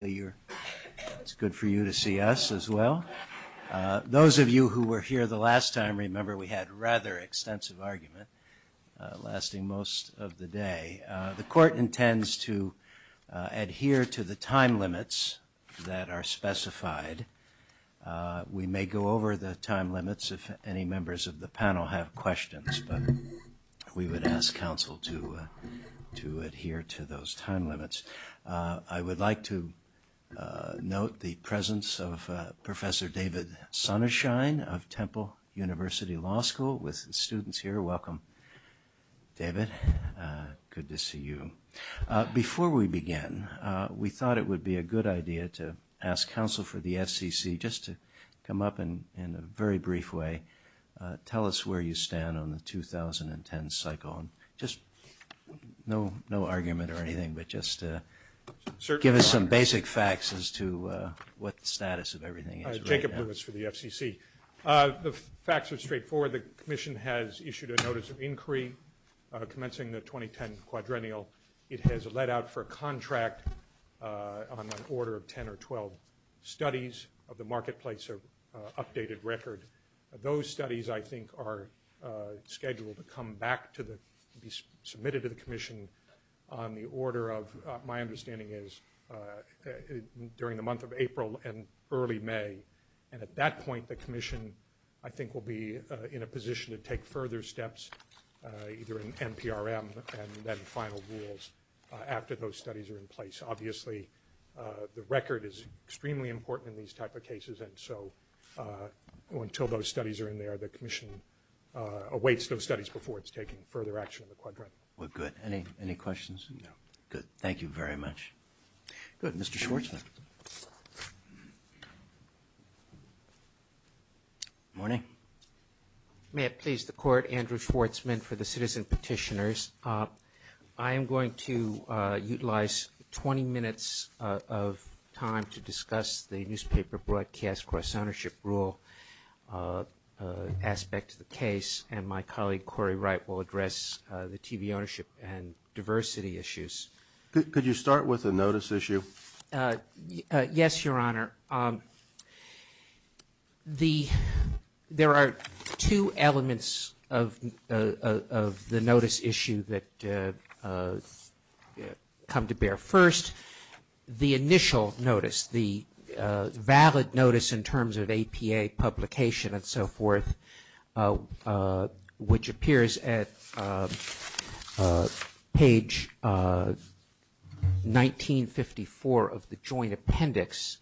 It's good for you to see us as well. Those of you who were here the last time remember we had a rather extensive argument lasting most of the day. The court intends to adhere to the time limits that are specified. We may go over the time limits if any members of the panel have questions, but we would ask counsel to adhere to those time limits. I would like to note the presence of Professor David Sonnershine of Temple University Law School with the students here. Welcome, David. Good to see you. Before we begin, we thought it would be a good idea to ask counsel for the FCC just to come up and in a very brief way tell us where you stand on the 2010 cycle. Just no argument or anything, but just give us some basic facts as to what status of everything is. Jacob Lewis for the FCC. The facts are straightforward. The Commission has issued a notice of inquiry commencing the 2010 quadrennial. It has let out for a contract on an marketplace of updated record. Those studies, I think, are scheduled to come back to be submitted to the Commission on the order of, my understanding is, during the month of April and early May. And at that point, the Commission, I think, will be in a position to take further steps, either in NPRM and then final rules, after those studies are in place. Obviously, the record is extremely important in these type of cases, and so until those studies are in there, the Commission awaits those studies before it's taking further action on the quadrennial. Well, good. Any questions? No. Good. Thank you very much. Good. Mr. Schwartzman. Morning. May it please the Court, Andrew Schwartzman for the citizen petitioners. I am going to utilize 20 minutes of time to discuss the newspaper broadcast cross-ownership rule aspect of the case, and my colleague Corey Wright will address the TV ownership and diversity issues. Could you start with the notice issue that come to bear first? The initial notice, the valid notice in terms of APA publication and so forth, which appears at page 1954 of the joint appendix,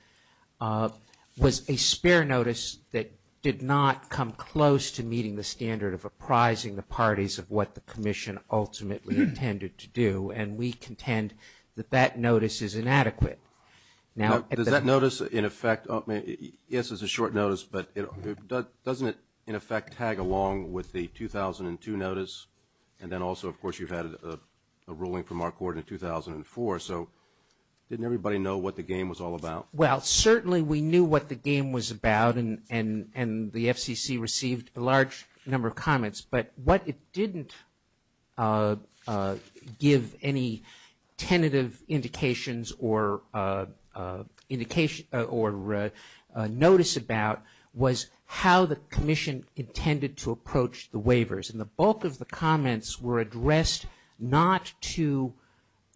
was a spare notice that did not come close to meeting the standard of apprising the Commission ultimately intended to do, and we contend that that notice is inadequate. Now, does that notice, in effect, yes, it's a short notice, but doesn't it, in effect, tag along with the 2002 notice? And then also, of course, you've had a ruling from our court in 2004, so didn't everybody know what the game was all about? Well, certainly we knew what the game was about, and the FCC received a large number of comments, but what it didn't give any tentative indications or notice about was how the Commission intended to approach the waivers, and the bulk of the comments were addressed not to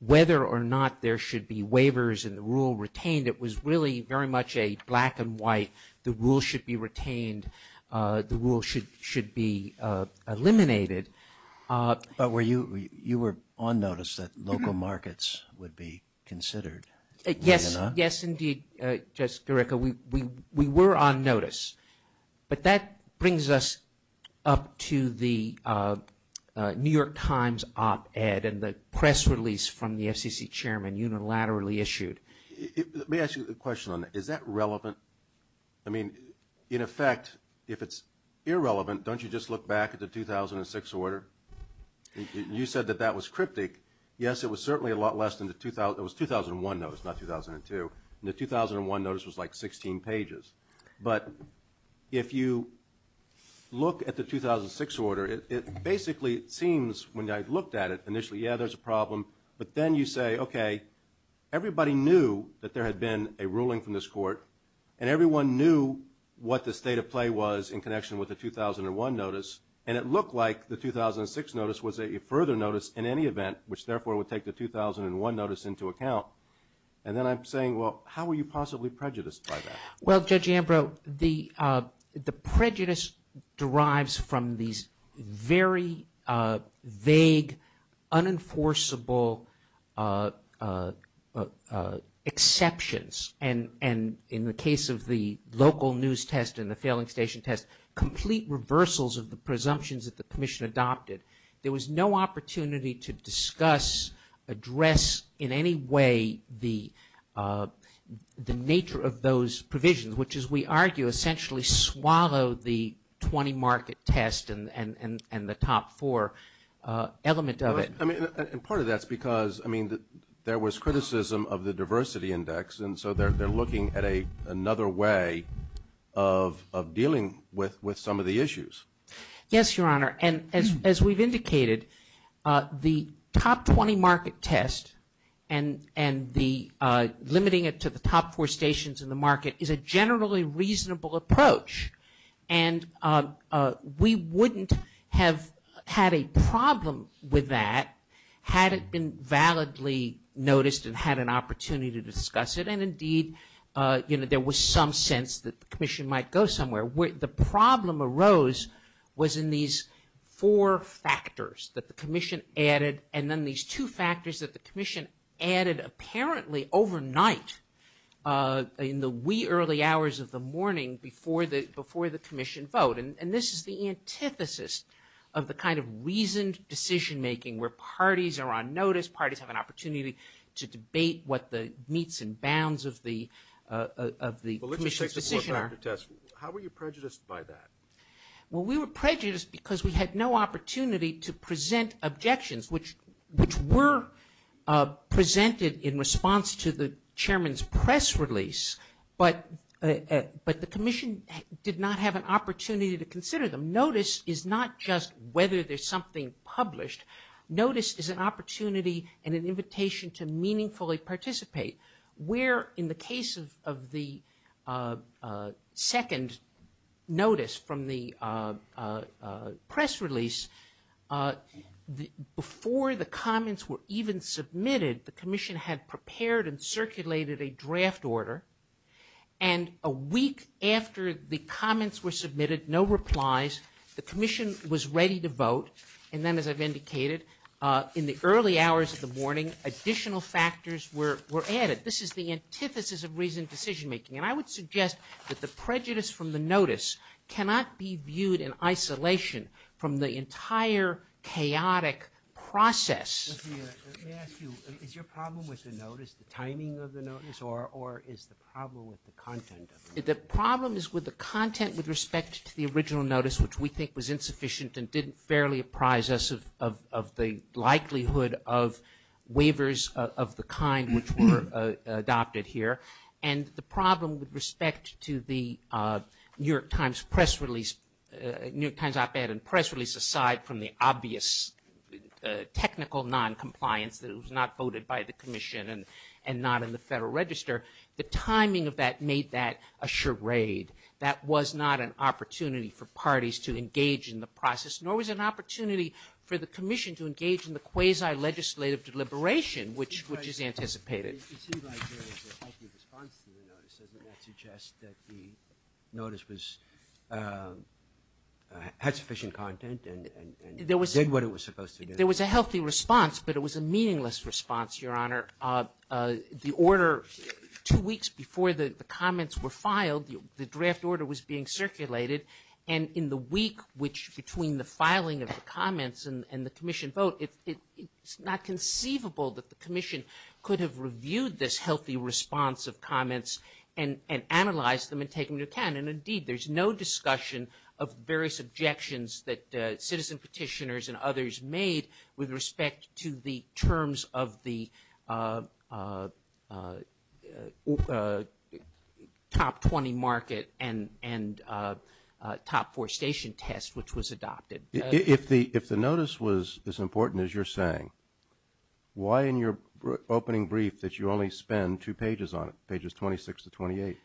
whether or not there should be waivers and the rule retained. It was really very much a why the rule should be retained, the rule should should be eliminated, but you were on notice that local markets would be considered. Yes, yes, indeed, Jessica, we were on notice, but that brings us up to the New York Times op-ed and the press release from the FCC chairman unilaterally issued. Let me ask a question on that. Is that relevant? I mean, in effect, if it's irrelevant, don't you just look back at the 2006 order? You said that that was cryptic. Yes, it was certainly a lot less than the 2000, it was 2001 notice, not 2002. The 2001 notice was like 16 pages, but if you look at the 2006 order, it basically seems, when I looked at it initially, yeah, there's a problem, but then you say, okay, everybody knew that there had been a ruling from this court, and everyone knew what the state of play was in connection with the 2001 notice, and it looked like the 2006 notice was a further notice in any event, which therefore would take the 2001 notice into account, and then I'm saying, well, how are you possibly prejudiced by that? Well, Judge Ambrose, the prejudice derives from these very vague, unenforceable exceptions, and in the case of the local news test and the failing station test, complete reversals of the presumptions that the Commission adopted. There was no opportunity to discuss, address in any way the nature of those provisions, which, as we argue, essentially swallowed the 20-market test and the top four element of it. I mean, part of that's because, I mean, there was criticism of the diversity index, and so they're looking at another way of dealing with some of the issues. Yes, Your Honor, and as we've indicated, the top 20-market test and the limiting it to the top four stations in the market is a generally reasonable approach, and we wouldn't have had a problem with that had it been validly noticed and had an opportunity to discuss it, and indeed, you know, there was some sense that the Commission might go somewhere. The problem arose was in these four factors that the Commission added, and then these two factors that the Commission added apparently overnight, in the wee early hours of the morning before the Commission vote, and this is the antithesis of the kind of reasoned decision-making where parties are on notice, parties have an opportunity to debate what the meats and bounds of the Commission's decision are. How were you prejudiced by that? Well, we were presented in response to the Chairman's press release, but the Commission did not have an opportunity to consider them. Notice is not just whether there's something published. Notice is an opportunity and an invitation to meaningfully participate. Where in the case of the second notice from the press release, before the comments were even submitted, the Commission had prepared and circulated a draft order, and a week after the comments were submitted, no replies, the Commission was ready to vote, and then as I've indicated, in the early hours of the morning, additional factors were added. This is the antithesis of reasoned decision-making, and I would suggest that the prejudice from the entire chaotic process... Let me ask you, is your problem with the notice, the timing of the notice, or is the problem with the content? The problem is with the content with respect to the original notice, which we think was insufficient and didn't fairly apprise us of the likelihood of waivers of the kind which were adopted here, and the problem with respect to the New York Times press release, New York aside from the obvious technical non-compliance, it was not voted by the Commission and not in the Federal Register, the timing of that made that a charade. That was not an opportunity for parties to engage in the process, nor was an opportunity for the Commission to engage in the quasi-legislative deliberation, which is anticipated. There was a healthy response, but it was a meaningless response, Your Honor. The order, two weeks before the comments were filed, the draft order was being circulated, and in the week which, between the filing of the comments and the Commission vote, it's not conceivable that the Commission could have reviewed this healthy response of comments and analyzed them and taken into account, and indeed there's no discussion of various objections that citizen petitioners and others made with respect to the terms of the top 20 market and top four station test which was adopted. If the notice was as important as you're saying, why in your opening brief that you only spend two pages on it, pages 26 to 28?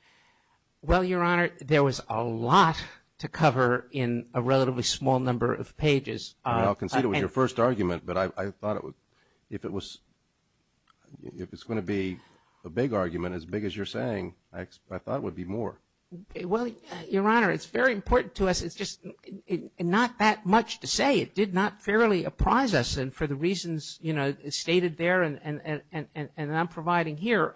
Well, Your Honor, there was a lot to cover in a relatively small number of pages. I'll consider it was your first argument, but I think it was a big argument, as big as you're saying. I thought it would be more. Well, Your Honor, it's very important to us. It's just not that much to say. It did not fairly apprise us, and for the reasons, you know, stated there, and I'm providing here,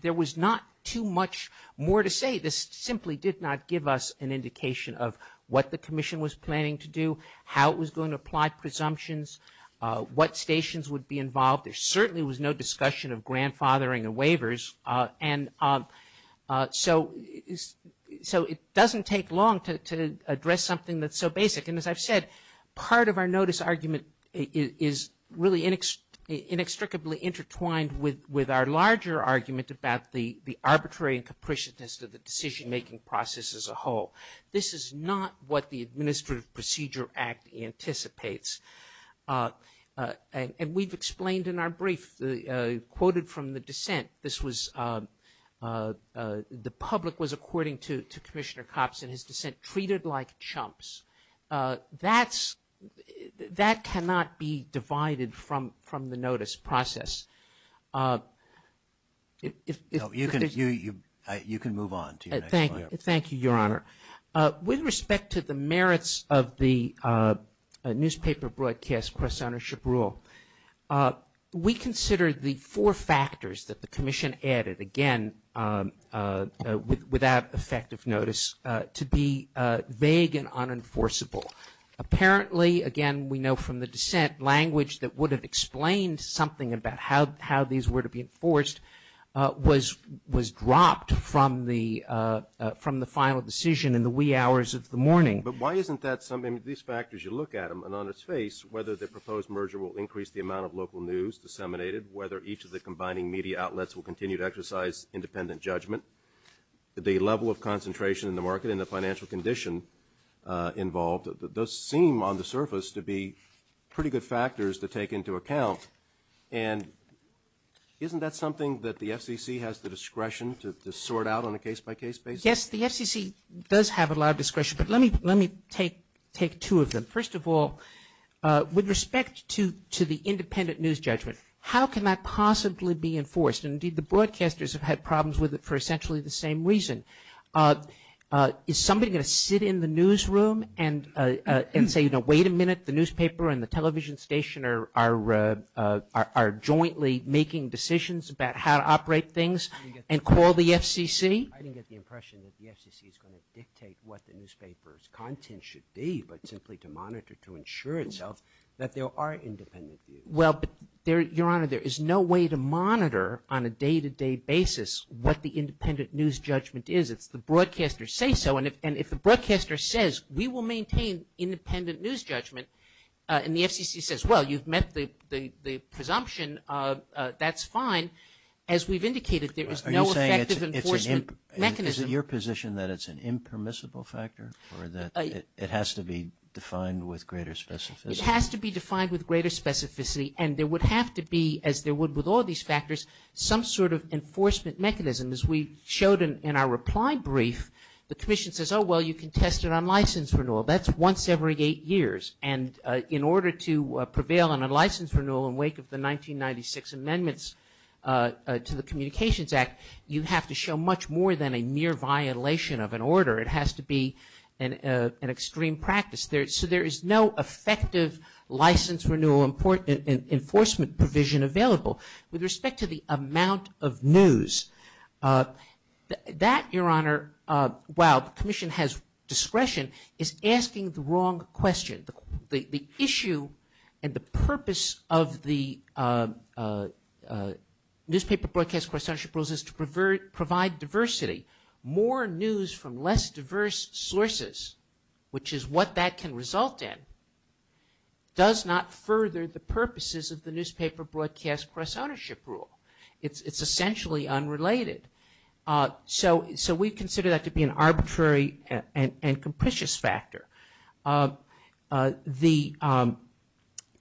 there was not too much more to say. This simply did not give us an indication of what the Commission was planning to do, how it was going to apply presumptions, what stations would be involved. There certainly was no discussion of grandfathering and waivers, and so it doesn't take long to address something that's so basic, and as I've said, part of our notice argument is really inextricably intertwined with our larger argument about the arbitrary and capriciousness of the decision-making process as a whole. This is not what the Administrative Procedure Act anticipates, and we've explained in our brief, quoted from the dissent, this was, the public was, according to Commissioner Copson, his dissent, treated like chumps. That's, that cannot be divided from the notice process. You can move on. Thank you, thank you, Your Honor. With respect to the merits of the newspaper broadcast press ownership rule, we consider the four factors that the Commission added, again, without effective notice, to be vague and unenforceable. Apparently, again, we know from the dissent, language that would explain something about how these were to be enforced was dropped from the final decision in the wee hours of the morning. But why isn't that something, these factors, you look at them, and on its face, whether the proposed merger will increase the amount of local news disseminated, whether each of the combining media outlets will continue to exercise independent judgment, the level of concentration in the market and the financial condition involved, those seem on the surface to be pretty good factors to take into account. And isn't that something that the SEC has the discretion to sort out on a case-by-case basis? Yes, the SEC does have a lot of discretion, but let me, let me take, take two of them. First of all, with respect to, to the independent news judgment, how can that possibly be enforced? Indeed, the broadcasters have had problems with it for essentially the same reason. Is somebody going to sit in the newsroom and say, you know, wait a minute, the newspaper and the television station are, are, are jointly making decisions about how to operate things and call the FCC? I didn't get the impression that the FCC is going to dictate what the newspaper's content should be, but simply to monitor to ensure itself that there are independent views. Well, there, Your Honor, there is no way to monitor on a day-to-day basis what the independent news judgment is if the broadcasters say so. And if, and if the broadcaster says, we will maintain independent news judgment, and the FCC says, well, you've met the, the, the presumption, that's fine. As we've indicated, there is no effective enforcement mechanism. Is it your position that it's an impermissible factor, or that it has to be defined with greater specificity? It has to be defined with greater specificity, and there would have to be, as there would with all these factors, some sort of enforcement mechanism. As we showed in, in our reply brief, the Commission says, oh, well, you can test it on license renewal. That's once every eight years, and in order to prevail on a license renewal in wake of the 1996 amendments to the Communications Act, you have to show much more than a mere violation of an order. It has to be an, an extreme practice. There, so there is no effective license renewal enforcement provision available. With respect to the amount of news, that, Your Honor, while the Commission has discretion, is asking the wrong question. The, the issue and the purpose of the Newspaper Broadcast Coordination Rules is to provide, provide diversity. More news from less diverse sources, which is what that can result in, does not further the purposes of the Newspaper Broadcast Cross-Ownership Rule. It's, it's essentially unrelated. So, so we consider that to be an arbitrary and, and, and capricious factor. The, the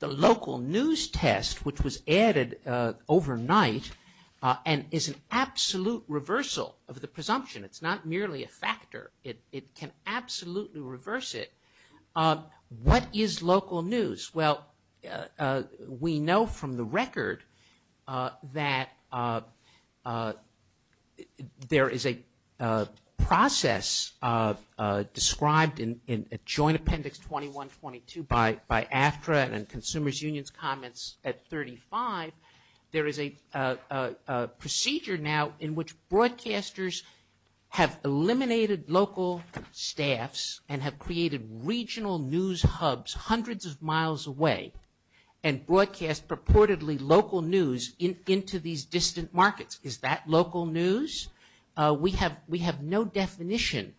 local news test, which was added overnight, and is an absolute reversal of the presumption. It's not merely a factor. It, we know from the record that there is a process described in, in Joint Appendix 21-22 by, by AFTRA and Consumers Union's comments at 35. There is a procedure now in which broadcasters have eliminated local staffs and have created regional news hubs hundreds of miles away and broadcast purportedly local news in, into these distant markets. Is that local news? We have, we have no definition.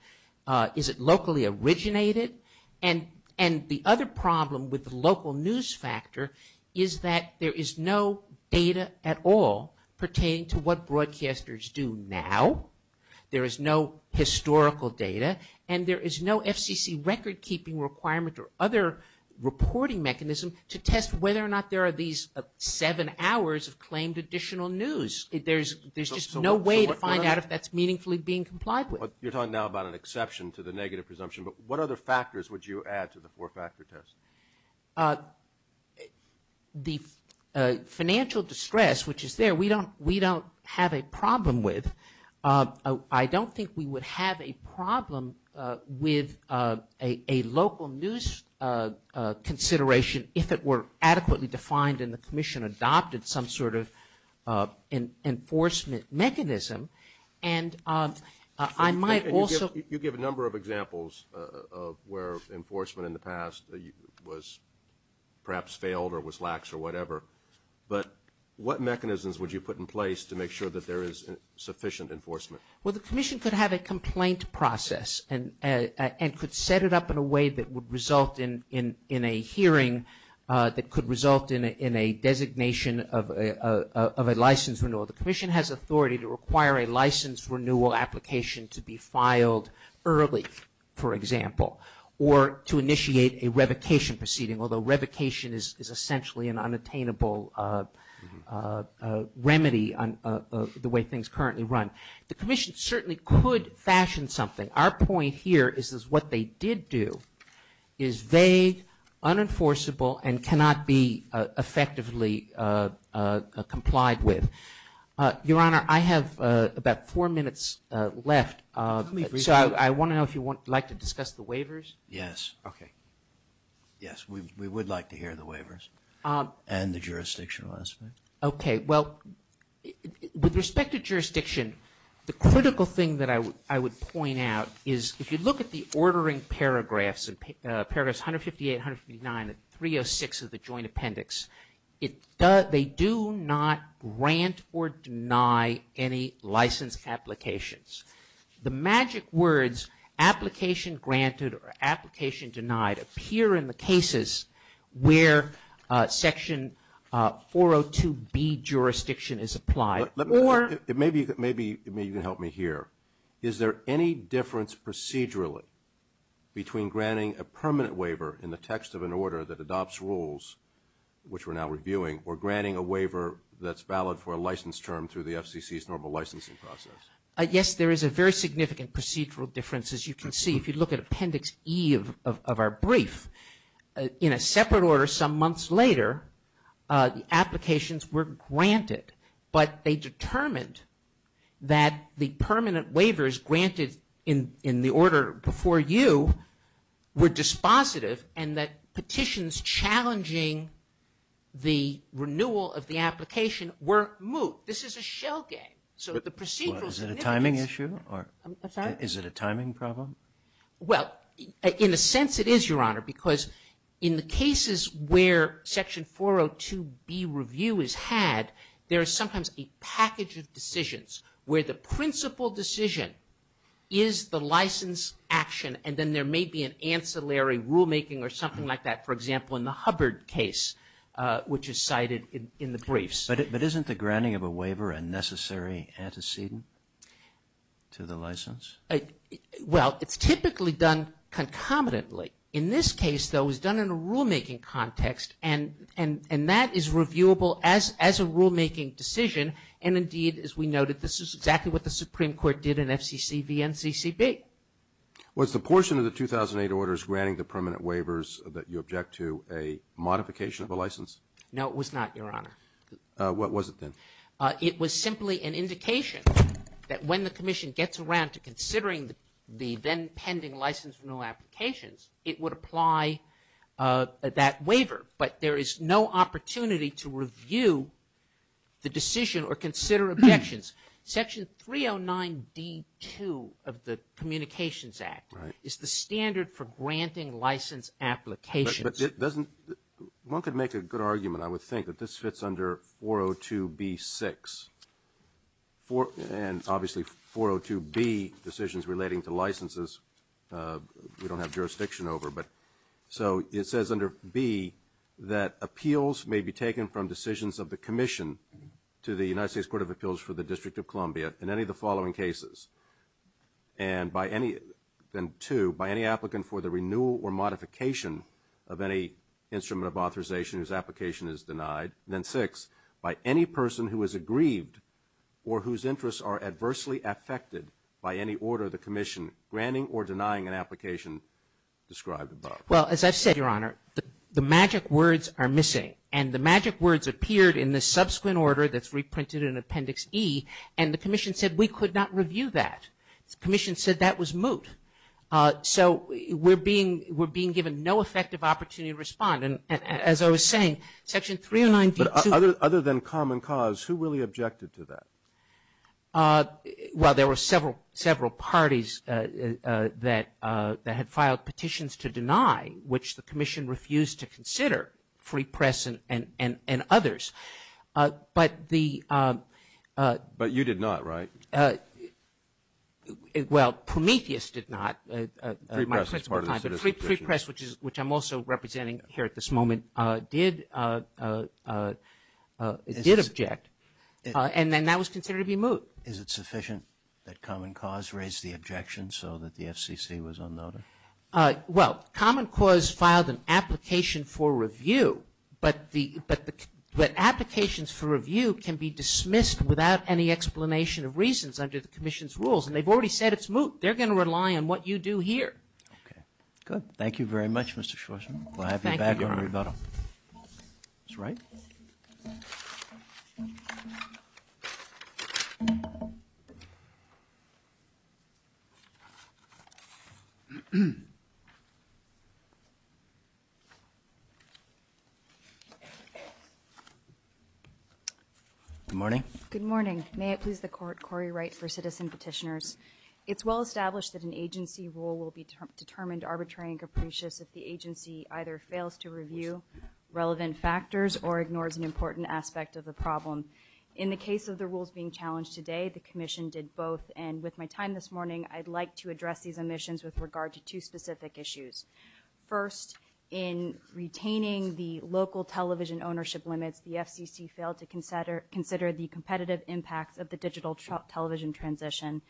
Is it locally originated? And, and the other problem with the local news factor is that there is no data at all pertaining to what broadcasters do now. There is no FCC record-keeping requirement or other reporting mechanism to test whether or not there are these seven hours of claimed additional news. There's, there's just no way to find out if that's meaningfully being complied with. But you're talking now about an exception to the negative presumption, but what other factors would you add to the four-factor test? The financial distress, which is there, we don't, we don't have a problem with. I don't think we would have a problem with a, a local news consideration if it were adequately defined and the Commission adopted some sort of enforcement mechanism. And I might also... You give a number of examples of where enforcement in the past was perhaps failed or was lax or whatever, but what mechanisms would you put in place to make sure that there is sufficient enforcement? Well, the Commission could have a complaint process and, and could set it up in a way that would result in, in, in a hearing that could result in a designation of a, of a license renewal. The Commission has authority to require a license renewal application to be filed early, for example, or to initiate a revocation proceeding, although revocation is essentially an The Commission certainly could fashion something. Our point here is, is what they did do is vague, unenforceable, and cannot be effectively complied with. Your Honor, I have about four minutes left. So I want to know if you would like to discuss the waivers? Yes. Okay. Yes, we would like to hear the waivers and the jurisdictional Okay, well, with respect to jurisdiction, the critical thing that I would, I would point out is if you look at the ordering paragraphs, paragraphs 158, 159, and 306 of the Joint Appendix, it does, they do not grant or deny any license applications. The magic words, application granted or application denied appear in the cases where Section 402B jurisdiction is applied. Let me, maybe, maybe, maybe you can help me here. Is there any difference procedurally between granting a permanent waiver in the text of an order that adopts rules, which we're now reviewing, or granting a waiver that's valid for a license term through the FCC's normal licensing process? Yes, there is a very significant procedural difference, as you can see. If you look at Appendix E of our brief, in a separate order, some months later, the applications were granted, but they determined that the permanent waivers granted in the order before you were dispositive and that petitions challenging the renewal of the application were moot. This is a shell gag. So the procedural... Is it a timing issue? Is it a timing problem? Well, in a sense, it is, Your Honor, because in the cases where Section 402B review is had, there is sometimes a package of decisions where the principal decision is the license action, and then there may be an ancillary rulemaking or something like that. For example, in the Hubbard case, which is cited in the briefs. But isn't the granting of a waiver a necessary antecedent to the license? Well, it's typically done concomitantly. In this case, though, it's done in a rulemaking context, and that is reviewable as a rulemaking decision, and indeed, as we noted, this is exactly what the Supreme Court did in FCC v. NCCB. Was the portion of the 2008 orders granting the permanent waivers that you object to a modification of a license? No, it was not, Your Honor. What was it then? It was simply an indication that when the Commission gets around to considering the then pending license renewal applications, it would apply that waiver. But there is no opportunity to review the decision or consider objections. Section 309D2 of the Communications Act is the standard for granting license applications. But doesn't... one could make a good argument, I would think, that this fits under 402B6. And obviously, 402B, decisions relating to licenses, we don't have jurisdiction over. So it says under B that appeals may be taken from decisions of the Commission to the United States Court of Appeals for the District of Columbia in any of the following cases. And by any... and two, by any applicant for the renewal or modification of any instrument of by any person who is aggrieved or whose interests are adversely affected by any order of the Commission granting or denying an application described above. Well, as I said, Your Honor, the magic words are missing. And the magic words appeared in the subsequent order that's reprinted in Appendix E. And the Commission said we could not review that. The Commission said that was moot. So we're being... we're being given no effective opportunity to respond. And as I was saying, Section 309B2... But other than common cause, who really objected to that? Well, there were several, several parties that had filed petitions to deny, which the Commission refused to consider, Free Press and others. But the... But you did not, right? Well, Prometheus did not. Free Press is part of this. Free Press, at this moment, did object. And that was considered to be moot. Is it sufficient that common cause raised the objection so that the FCC was unnoticed? Well, common cause filed an application for review. But the... But applications for review can be dismissed without any explanation of reasons under the Commission's rules. And they've already said it's moot. They're going to rely on what you do here. Okay. Good. Thank you very much, Mr. Schwartzman. We'll have you back on rebuttal. That's right. Good morning. Good morning. May it please the Court, Corey Wright for Citizen Petitioners. It's well established that an agency rule will be determined arbitrary and capricious if the agency either fails to review relevant factors or ignores an important aspect of the problem. In the case of the rules being challenged today, the Commission did both. And with my time this morning, I'd like to address these omissions with regard to two specific issues. First, in retaining the local television ownership limits, the FCC failed to consider the competitive impacts of the digital television transition.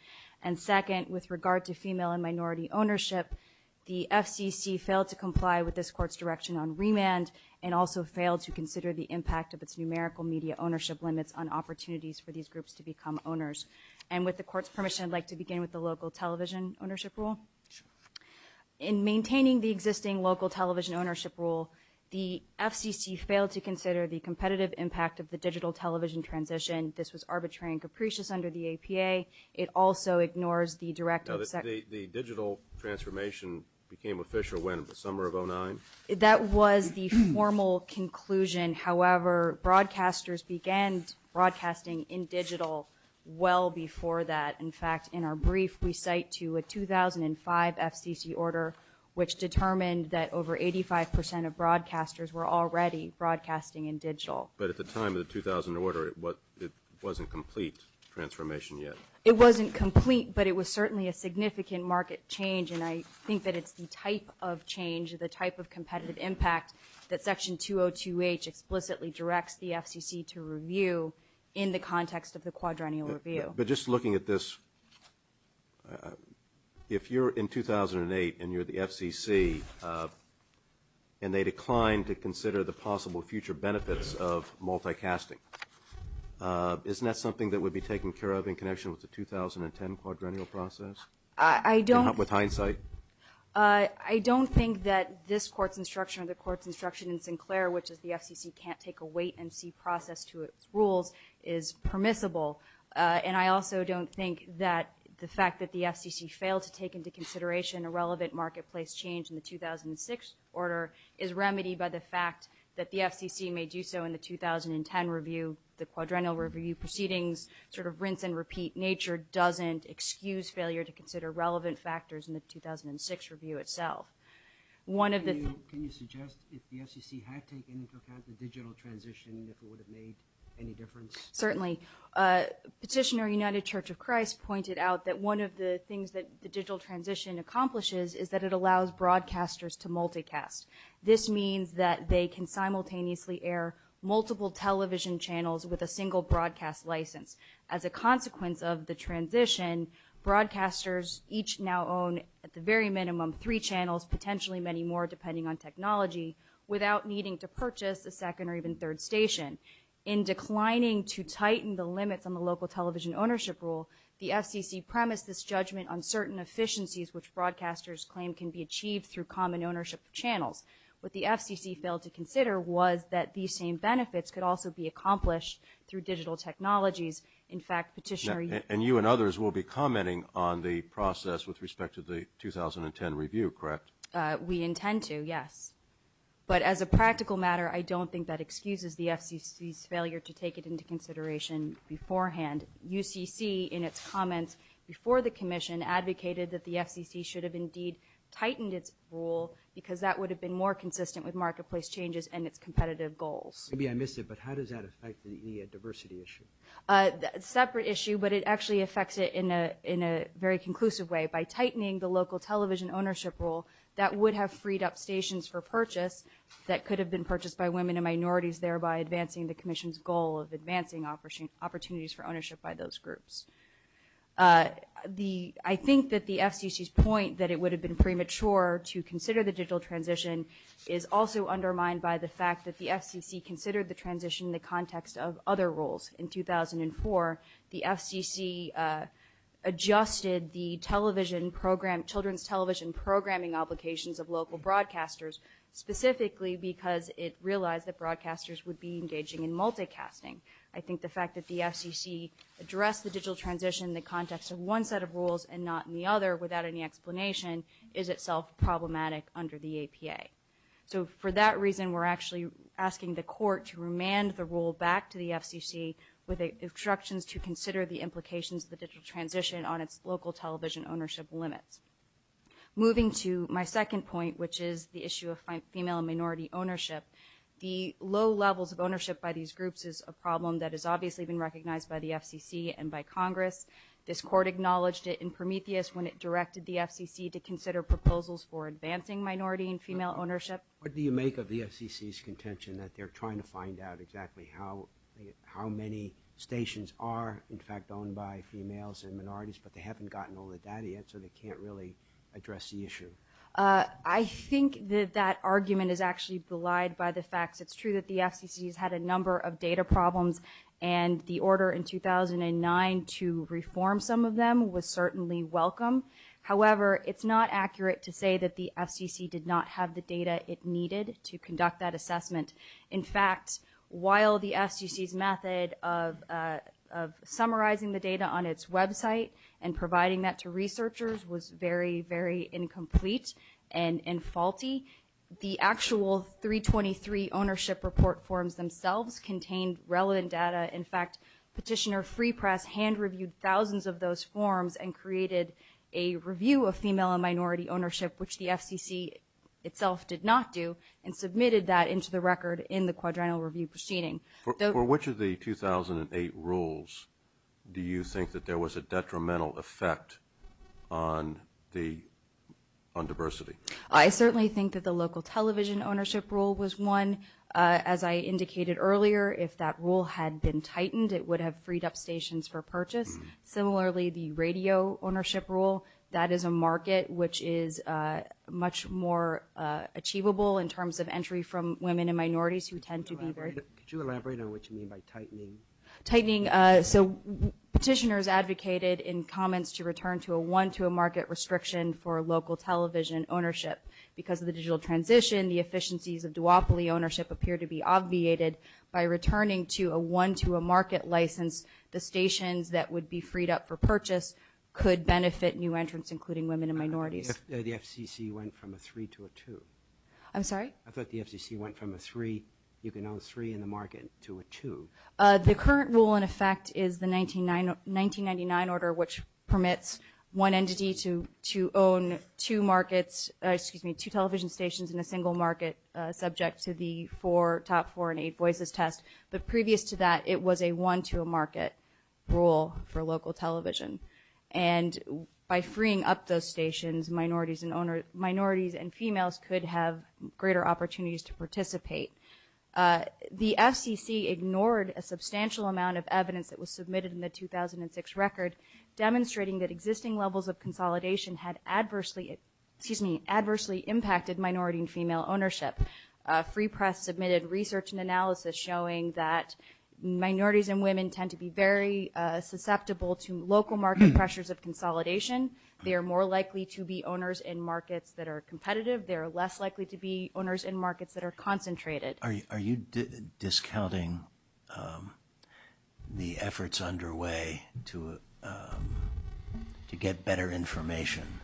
And second, with regard to female and minority ownership, the FCC failed to comply with this Court's direction on remand and also failed to consider the impact of its numerical media ownership limits on opportunities for these groups to become owners. And with the Court's permission, I'd like to begin with the local television ownership rule. In maintaining the existing local television ownership rule, the FCC failed to consider the competitive impact of the digital television transition. This was arbitrary and capricious under the APA. It also ignores the directive that... The digital transformation became official when? In the summer of 2009? That was the formal conclusion. However, broadcasters began broadcasting in digital well before that. In fact, in our brief, we cite to a 2005 FCC order, which determined that over 85% of broadcasters were already broadcasting in digital. But at the time of the 2000 order, it wasn't complete transformation yet? It wasn't complete, but it was certainly a significant market change, and I think that it's the type of change, the type of competitive impact, that Section 202H explicitly directs the FCC to review in the context of the quadrennial review. But just looking at this, if you're in 2008 and you're the FCC and they decline to consider the possible future benefits of multicasting, isn't that something that would be taken care of in connection with the 2010 quadrennial process? I don't... With hindsight? I don't think that this court's instruction or the court's instruction in Sinclair, which is the FCC can't take a wait-and-see process to its rules, is permissible. And I also don't think that the fact that the FCC failed to take into consideration a relevant marketplace change in the 2006 order is remedied by the fact that the FCC may do so in the 2010 review. The quadrennial review proceedings sort of rinse and repeat nature doesn't excuse failure to consider relevant factors in the 2006 review itself. One of the... Can you suggest if the FCC had taken into account the digital transition, if it would have made any difference? Certainly. Petitioner, United Church of Christ, pointed out that one of the things that the digital transition accomplishes is that it allows broadcasters to multicast. This means that they can simultaneously air multiple television channels with a single broadcast license. As a consequence of the transition, broadcasters each now own at the very minimum three channels, potentially many more depending on technology, without needing to purchase a second or even third station. In declining to tighten the limits on the local television ownership rule, the FCC premised its judgment on certain efficiencies which broadcasters claim can be achieved through common ownership of channels. What the FCC failed to consider was that these same benefits could also be accomplished through digital technologies. In fact, petitioner... And you and others will be commenting on the process with respect to the 2010 review, correct? We intend to, yes. But as a practical matter, I don't think that excuses the FCC's failure to take it into consideration beforehand. UCC, in its comments before the commission, advocated that the FCC should have indeed tightened its rule because that would have been more consistent with marketplace changes and its competitive goals. Maybe I missed it, but how does that affect the EIA diversity issue? A separate issue, but it actually affects it in a very conclusive way. By tightening the local television ownership rule, that would have freed up stations for purchase that could have been purchased by women and minorities, thereby advancing the commission's goal of advancing opportunities for ownership by those groups. I think that the FCC's point that it would have been premature to consider the digital transition is also undermined by the fact that the FCC considered the transition in the context of other rules. In 2004, the FCC adjusted the children's television programming obligations of local broadcasters specifically because it realized that broadcasters would be engaging in multicasting. I think the fact that the FCC addressed the digital transition in the context of one set of rules and not in the other without any explanation is itself problematic under the APA. So for that reason, we're actually asking the court to remand the rule back to the FCC with instructions to consider the implications of the digital transition on its local television ownership limits. Moving to my second point, which is the issue of female and minority ownership, the low levels of ownership by these groups is a problem that has obviously been recognized by the FCC and by Congress. This court acknowledged it in Prometheus when it directed the FCC to consider proposals for advancing minority and female ownership. What do you make of the FCC's contention that they're trying to find out exactly how many stations are in fact owned by females and minorities, but they haven't gotten over that yet, so they can't really address the issue? I think that that argument is actually belied by the fact that it's true that the FCC has had a number of data problems and the order in 2009 to reform some of them was certainly welcome. However, it's not accurate to say that the FCC did not have the data it needed to conduct that assessment. In fact, while the FCC's method of summarizing the data on its website and providing that to researchers was very, very incomplete and faulty, the actual 323 ownership report forms themselves contained relevant data. In fact, Petitioner Free Press hand-reviewed thousands of those forms and created a review of female and minority ownership, which the FCC itself did not do, and submitted that into the record in the quadrennial review proceeding. For which of the 2008 rules do you think that there was a detrimental effect on diversity? I certainly think that the local television ownership rule was one. As I indicated earlier, if that rule had been tightened, it would have freed up stations for purchase. Similarly, the radio ownership rule, that is a market which is much more achievable in terms of entry from women and minorities who tend to be very... Could you elaborate on what you mean by tightening? Tightening, so Petitioner has advocated in comments to return to a one-to-a-market restriction for local television ownership. Because of the digital transition, the efficiencies of duopoly ownership appear to be obviated by returning to a one-to-a-market license. The stations that would be freed up for purchase could benefit new entrants, including women and minorities. The FCC went from a three to a two. I'm sorry? I thought the FCC went from a three, you can own three in the market, to a two. The current rule in effect is the 1999 order, which permits one entity to own two markets, excuse me, two television stations in a single market, subject to the four, top four, and eight voices test. But previous to that, it was a one-to-a-market rule for local television. And by freeing up those stations, minorities and females could have greater opportunities to participate. The FCC ignored a substantial amount of evidence that was submitted in the 2006 record, demonstrating that existing levels of consolidation had adversely impacted minority and female ownership. Free Press submitted research and analysis showing that minorities and women tend to be very susceptible to local market pressures of consolidation. They are more likely to be owners in markets that are competitive. They are less likely to be owners in markets that are concentrated. Are you discounting the efforts underway to get better information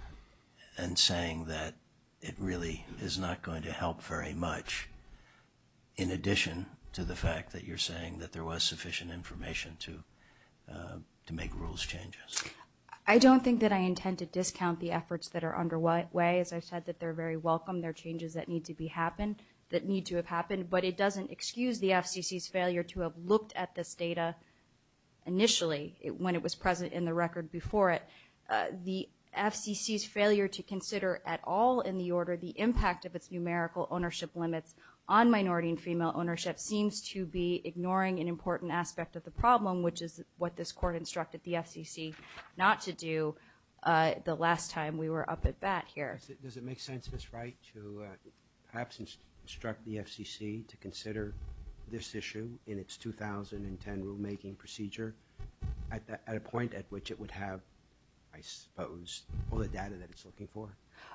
and saying that it really is not going to help very much in addition to the fact that you're saying that there was sufficient information to make rules changes? I don't think that I intend to discount the efforts that are underway. As I said, they're very welcome. They're changes that need to have happened. But it doesn't excuse the FCC's failure to have looked at this data initially when it was present in the record before it. The FCC's failure to consider at all in the order the impact of its numerical ownership limits on minority and female ownership seems to be ignoring an important aspect of the problem, which is what this Court instructed the FCC not to do the last time we were up at bat here. Does it make sense, Ms. Wright, to perhaps instruct the FCC to consider this issue in its 2010 rulemaking procedure at a point at which it would have, I suppose, all the data that it's looking for?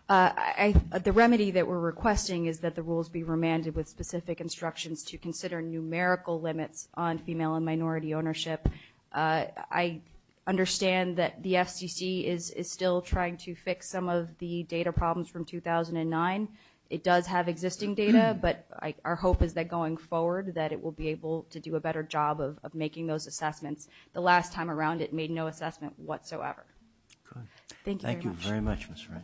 The remedy that we're requesting is that the rules be remanded with specific instructions to consider numerical limits on female and minority ownership. I understand that the FCC is still trying to fix some of the data problems from 2009. It does have existing data, but our hope is that going forward that it will be able to do a better job of making those assessments. The last time around it made no assessment whatsoever. Thank you very much, Ms. Wright.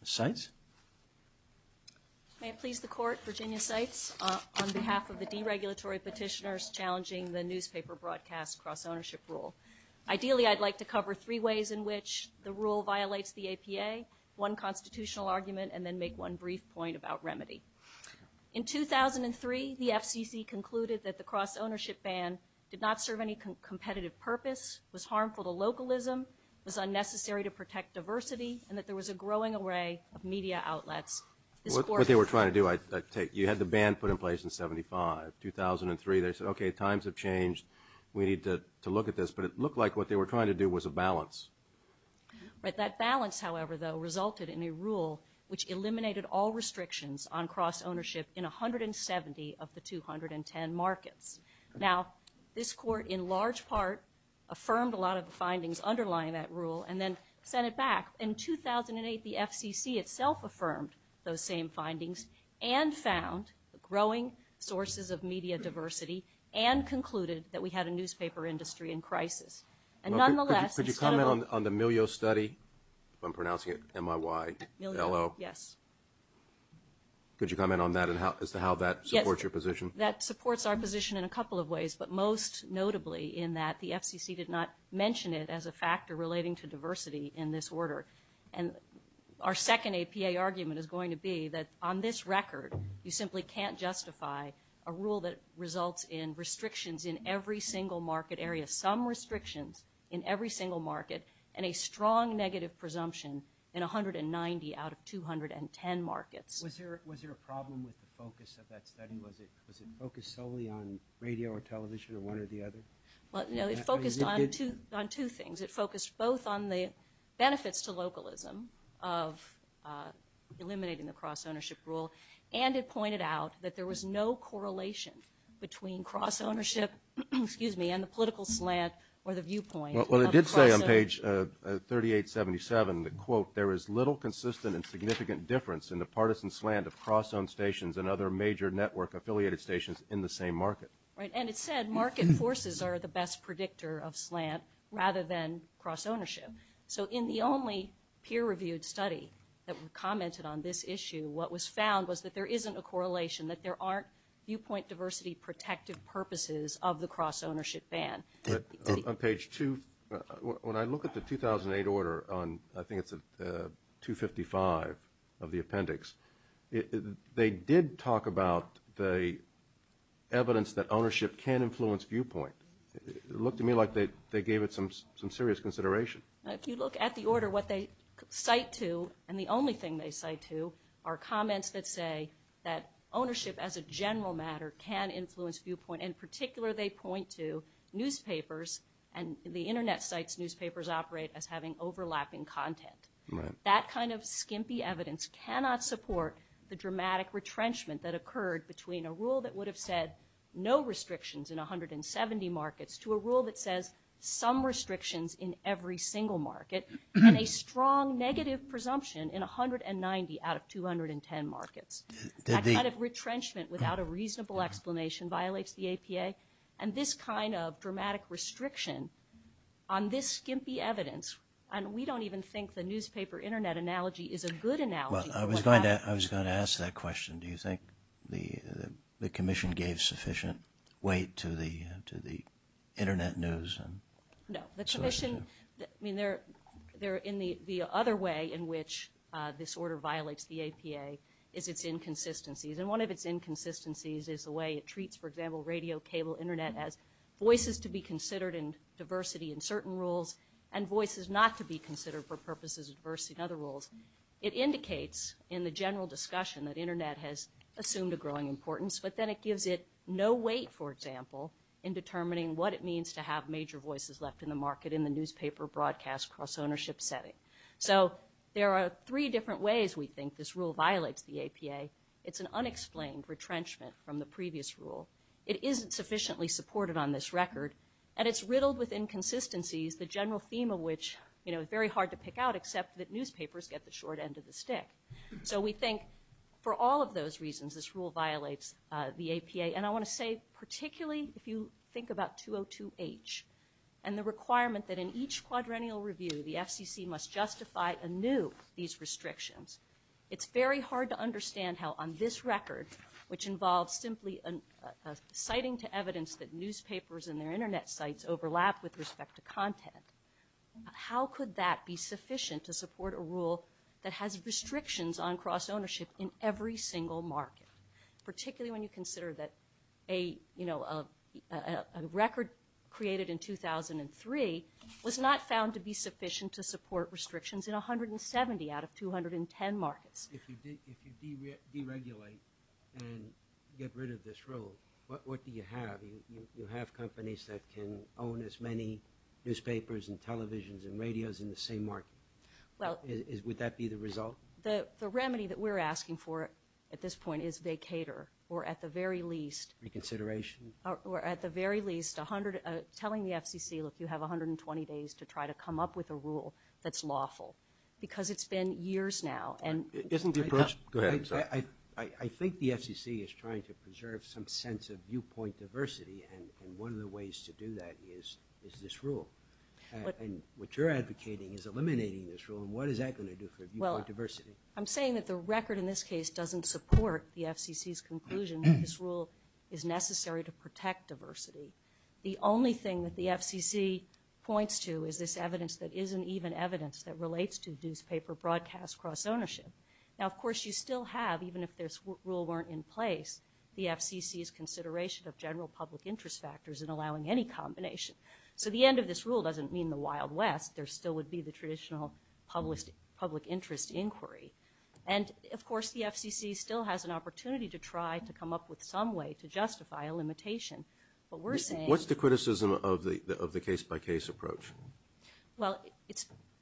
Ms. Seitz? May it please the Court, Virginia Seitz, on behalf of the deregulatory petitioners challenging the newspaper broadcast cross-ownership rule. Ideally, I'd like to cover three ways in which the rule violates the APA, one constitutional argument, and then make one brief point about remedy. In 2003, the FCC concluded that the cross-ownership ban did not serve any competitive purpose, was harmful to localism, was unnecessary to protect diversity, and that there was a growing array of media outlets. What they were trying to do, you had the ban put in place in 75. 2003, they said, okay, times have changed, we need to look at this. But it looked like what they were trying to do was a balance. That balance, however, though, resulted in a rule which eliminated all restrictions on cross-ownership in 170 of the 210 markets. Now, this Court, in large part, affirmed a lot of the findings underlying that rule and then sent it back. In 2008, the FCC itself affirmed those same findings and found growing sources of media diversity and concluded that we had a newspaper industry in crisis. Could you comment on the Milieu study? I'm pronouncing it M-I-Y-E-L-O. Yes. Could you comment on that and how that supports your position? That supports our position in a couple of ways, but most notably in that the FCC did not mention it as a factor relating to diversity in this order. And our second APA argument is going to be that on this record, you simply can't justify a rule that results in restrictions in every single market area, some restrictions in every single market, and a strong negative presumption in 190 out of 210 markets. Was there a problem with the focus of that study? Was it focused solely on radio or television or one or the other? No, it focused on two things. It focused both on the benefits to localism of eliminating the cross-ownership rule, and it pointed out that there was no correlation between cross-ownership and the political slant or the viewpoint. Well, it did say on page 3877, quote, there is little consistent and significant difference in the partisan slant of cross-owned stations and other major network-affiliated stations in the same market. Right, and it said market forces are the best predictor of slant rather than cross-ownership. So in the only peer-reviewed study that commented on this issue, what was found was that there isn't a correlation, that there aren't viewpoint diversity-protective purposes of the cross-ownership ban. On page 2, when I look at the 2008 order, I think it's at 255 of the appendix, they did talk about the evidence that ownership can influence viewpoint. It looked to me like they gave it some serious consideration. If you look at the order, what they cite to, and the only thing they cite to, are comments that say that ownership as a general matter can influence viewpoint. In particular, they point to newspapers and the Internet sites newspapers operate as having overlapping content. Right. That kind of skimpy evidence cannot support the dramatic retrenchment that occurred between a rule that would have said no restrictions in 170 markets to a rule that says some restrictions in every single market and a strong negative presumption in 190 out of 210 markets. That kind of retrenchment without a reasonable explanation violates the APA, and this kind of dramatic restriction on this skimpy evidence, and we don't even think the newspaper-Internet analogy is a good analogy. Well, I was going to ask that question. Do you think the Commission gave sufficient weight to the Internet news? No. I mean, the other way in which this order violates the APA is its inconsistencies, and one of its inconsistencies is the way it treats, for example, radio, cable, Internet as voices to be considered in diversity in certain rules and voices not to be considered for purposes of diversity in other rules. It indicates in the general discussion that Internet has assumed a growing importance, but then it gives it no weight, for example, in determining what it means to have major voices left in the market in the newspaper broadcast cross-ownership setting. So there are three different ways we think this rule violates the APA. It's an unexplained retrenchment from the previous rule. It isn't sufficiently supported on this record, and it's riddled with inconsistencies, the general theme of which is very hard to pick out except that newspapers get the short end of the stick. So we think for all of those reasons this rule violates the APA, and I want to say particularly if you think about 202H and the requirement that in each quadrennial review the FCC must justify anew these restrictions, it's very hard to understand how on this record, which involves simply citing to evidence that newspapers and their Internet sites overlap with respect to content, how could that be sufficient to support a rule that has restrictions on cross-ownership in every single market, particularly when you consider that a record created in 2003 was not found to be sufficient to support restrictions in 170 out of 210 markets? If you deregulate and get rid of this rule, what do you have? You have companies that can own as many newspapers and televisions and radios in the same market. Would that be the result? The remedy that we're asking for at this point is vacater, or at the very least. Reconsideration? Or at the very least telling the FCC, look, you have 120 days to try to come up with a rule that's lawful, because it's been years now. Isn't the first? Go ahead. I think the FCC is trying to preserve some sense of viewpoint diversity, and one of the ways to do that is this rule. What you're advocating is eliminating this rule, and what is that going to do for viewpoint diversity? I'm saying that the record in this case doesn't support the FCC's conclusion that this rule is necessary to protect diversity. The only thing that the FCC points to is this evidence that isn't even evidence that relates to newspaper broadcast cross-ownership. Now, of course, you still have, even if this rule weren't in place, the FCC's consideration of general public interest factors in allowing any combination. So the end of this rule doesn't mean the Wild West. There still would be the traditional public interest inquiry. And, of course, the FCC still has an opportunity to try to come up with some way to justify a limitation. What's the criticism of the case-by-case approach? Well,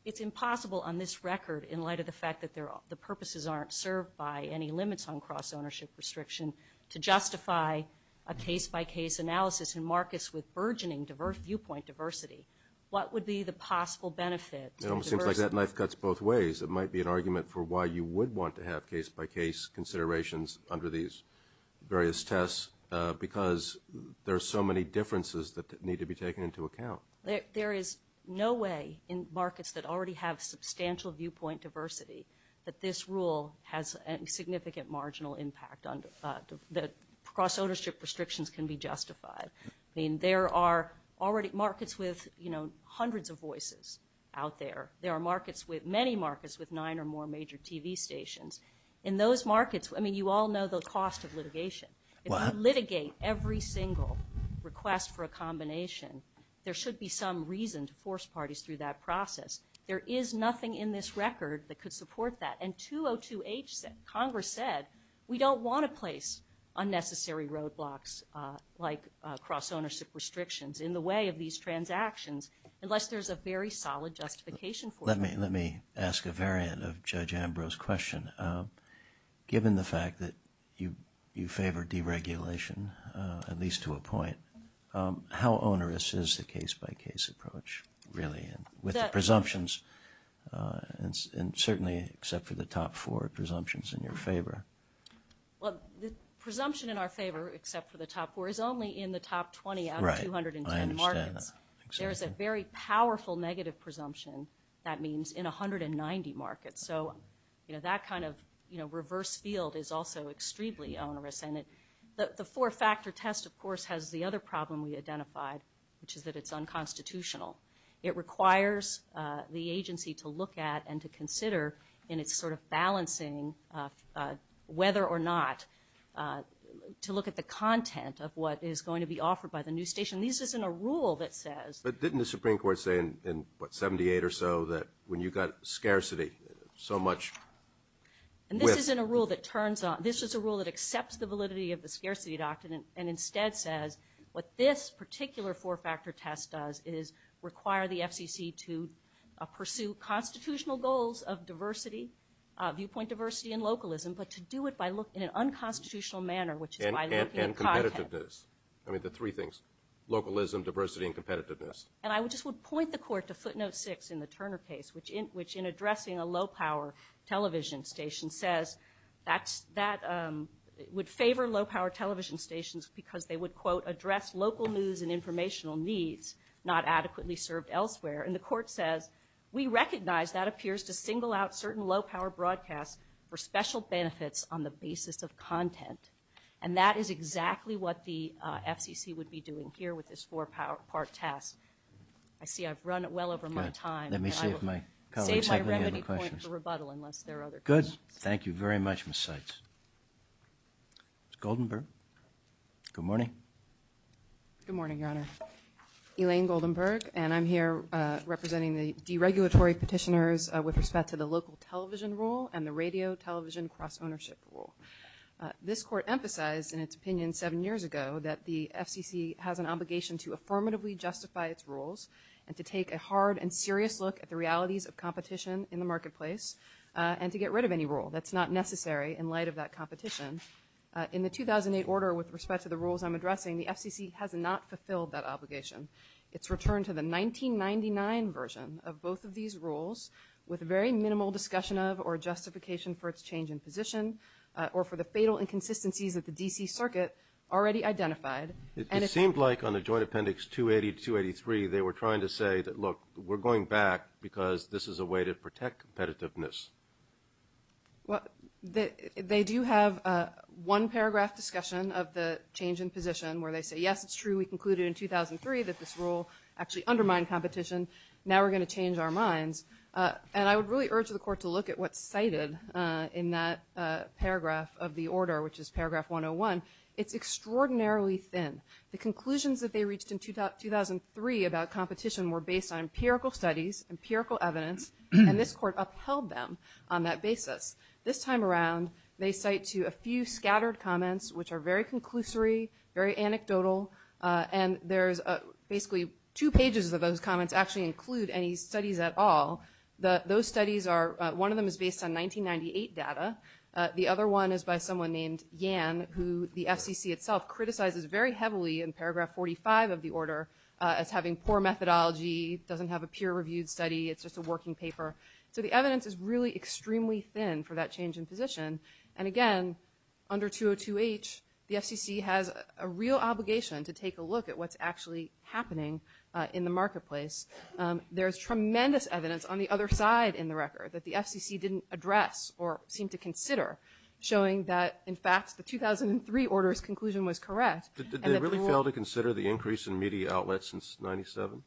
it's impossible on this record, in light of the fact that the purposes aren't served by any limits on cross-ownership restriction, to justify a case-by-case analysis in markets with burgeoning viewpoint diversity. What would be the possible benefit? It almost seems like that knife cuts both ways. It might be an argument for why you would want to have case-by-case considerations under these various tests, because there are so many differences that need to be taken into account. There is no way in markets that already have substantial viewpoint diversity that this rule has a significant marginal impact, that cross-ownership restrictions can be justified. I mean, there are already markets with hundreds of voices out there. There are markets with – many markets with nine or more major TV stations. In those markets – I mean, you all know the cost of litigation. If you litigate every single request for a combination, there should be some reason to force parties through that process. There is nothing in this record that could support that. And 202H, Congress said, we don't want to place unnecessary roadblocks like cross-ownership restrictions in the way of these transactions unless there's a very solid justification for them. Let me ask a variant of Judge Ambrose's question. Given the fact that you favor deregulation, at least to a point, how onerous is the case-by-case approach, really, with the presumptions? And certainly, except for the top four presumptions in your favor. Well, the presumption in our favor, except for the top four, is only in the top 20 out of 209 markets. Right. I understand. There's a very powerful negative presumption that means in 190 markets. So that kind of reverse field is also extremely onerous. And the four-factor test, of course, has the other problem we identified, which is that it's unconstitutional. It requires the agency to look at and to consider, and it's sort of balancing whether or not to look at the content of what is going to be offered by the new station. This isn't a rule that says- But didn't the Supreme Court say in, what, 78 or so, that when you got scarcity, so much- And this isn't a rule that turns on- This is a rule that accepts the validity of the scarcity doctrine and instead says what this particular four-factor test does is require the FCC to pursue constitutional goals of diversity, viewpoint diversity, and localism, but to do it in an unconstitutional manner, which is- And competitiveness. I mean, the three things, localism, diversity, and competitiveness. And I just would point the court to footnote six in the Turner case, which in addressing a low-power television station says that would favor low-power television stations because they would, quote, address local news and informational needs not adequately served elsewhere. And the court says, we recognize that appears to single out certain low-power broadcasts for special benefits on the basis of content. And that is exactly what the FCC would be doing here with this four-part test. I see I've run well over my time. Let me see if my colleagues have any other questions. Good. Thank you very much, Ms. Seitz. Goldenberg? Good morning. Good morning, Your Honor. Elaine Goldenberg, and I'm here representing the deregulatory petitioners with respect to the local television rule and the radio-television cross-ownership rule. This court emphasized in its opinion seven years ago that the FCC has an obligation to affirmatively justify its rules and to take a hard and serious look at the realities of competition in the marketplace and to get rid of any rule that's not necessary in light of that competition. In the 2008 order with respect to the rules I'm addressing, the FCC has not fulfilled that obligation. It's returned to the 1999 version of both of these rules with very minimal discussion of or justification for its change in position or for the fatal inconsistencies that the D.C. Circuit already identified. It seemed like on the joint appendix 280-283 they were trying to say that, look, we're going back because this is a way to protect competitiveness. Well, they do have one paragraph discussion of the change in position where they say, yes, it's true. We concluded in 2003 that this rule actually undermined competition. Now we're going to change our minds. And I would really urge the court to look at what's cited in that paragraph of the order, which is paragraph 101. It's extraordinarily thin. The conclusions that they reached in 2003 about competition were based on empirical studies, empirical evidence, and this court upheld them on that basis. This time around they cite to a few scattered comments which are very conclusory, very anecdotal, and there's basically two pages of those comments actually include any studies at all. Those studies are one of them is based on 1998 data. The other one is by someone named Yan who the FCC itself criticizes very heavily in paragraph 45 of the order as having poor methodology, doesn't have a peer-reviewed study, it's just a working paper. So the evidence is really extremely thin for that change in position. And, again, under 202H the FCC has a real obligation to take a look at what's actually happening in the marketplace. There's tremendous evidence on the other side in the record that the FCC didn't address or seem to consider, showing that, in fact, the 2003 order's conclusion was correct. Did they really fail to consider the increase in media outlets since 97?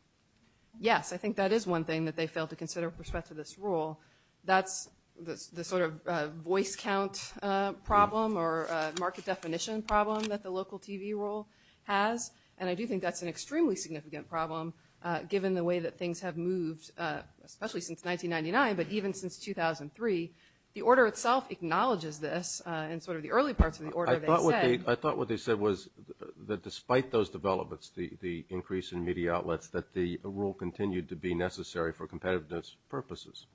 Yes, I think that is one thing that they failed to consider with respect to this rule. That's the sort of voice count problem or market definition problem that the local TV rule has, and I do think that's an extremely significant problem given the way that things have moved, especially since 1999 but even since 2003. The order itself acknowledges this in sort of the early parts of the order they had. I thought what they said was that despite those developments, the increase in media outlets, that the rule continued to be necessary for competitiveness purposes.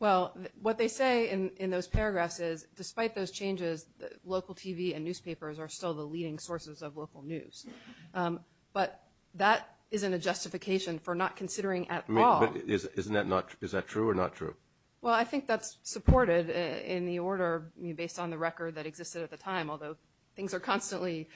Well, what they say in those paragraphs is despite those changes, local TV and newspapers are still the leading sources of local news. But that isn't a justification for not considering at all. Isn't that not true? Is that true or not true? Well, I think that's supported in the order based on the record that existed at the time, although things are constantly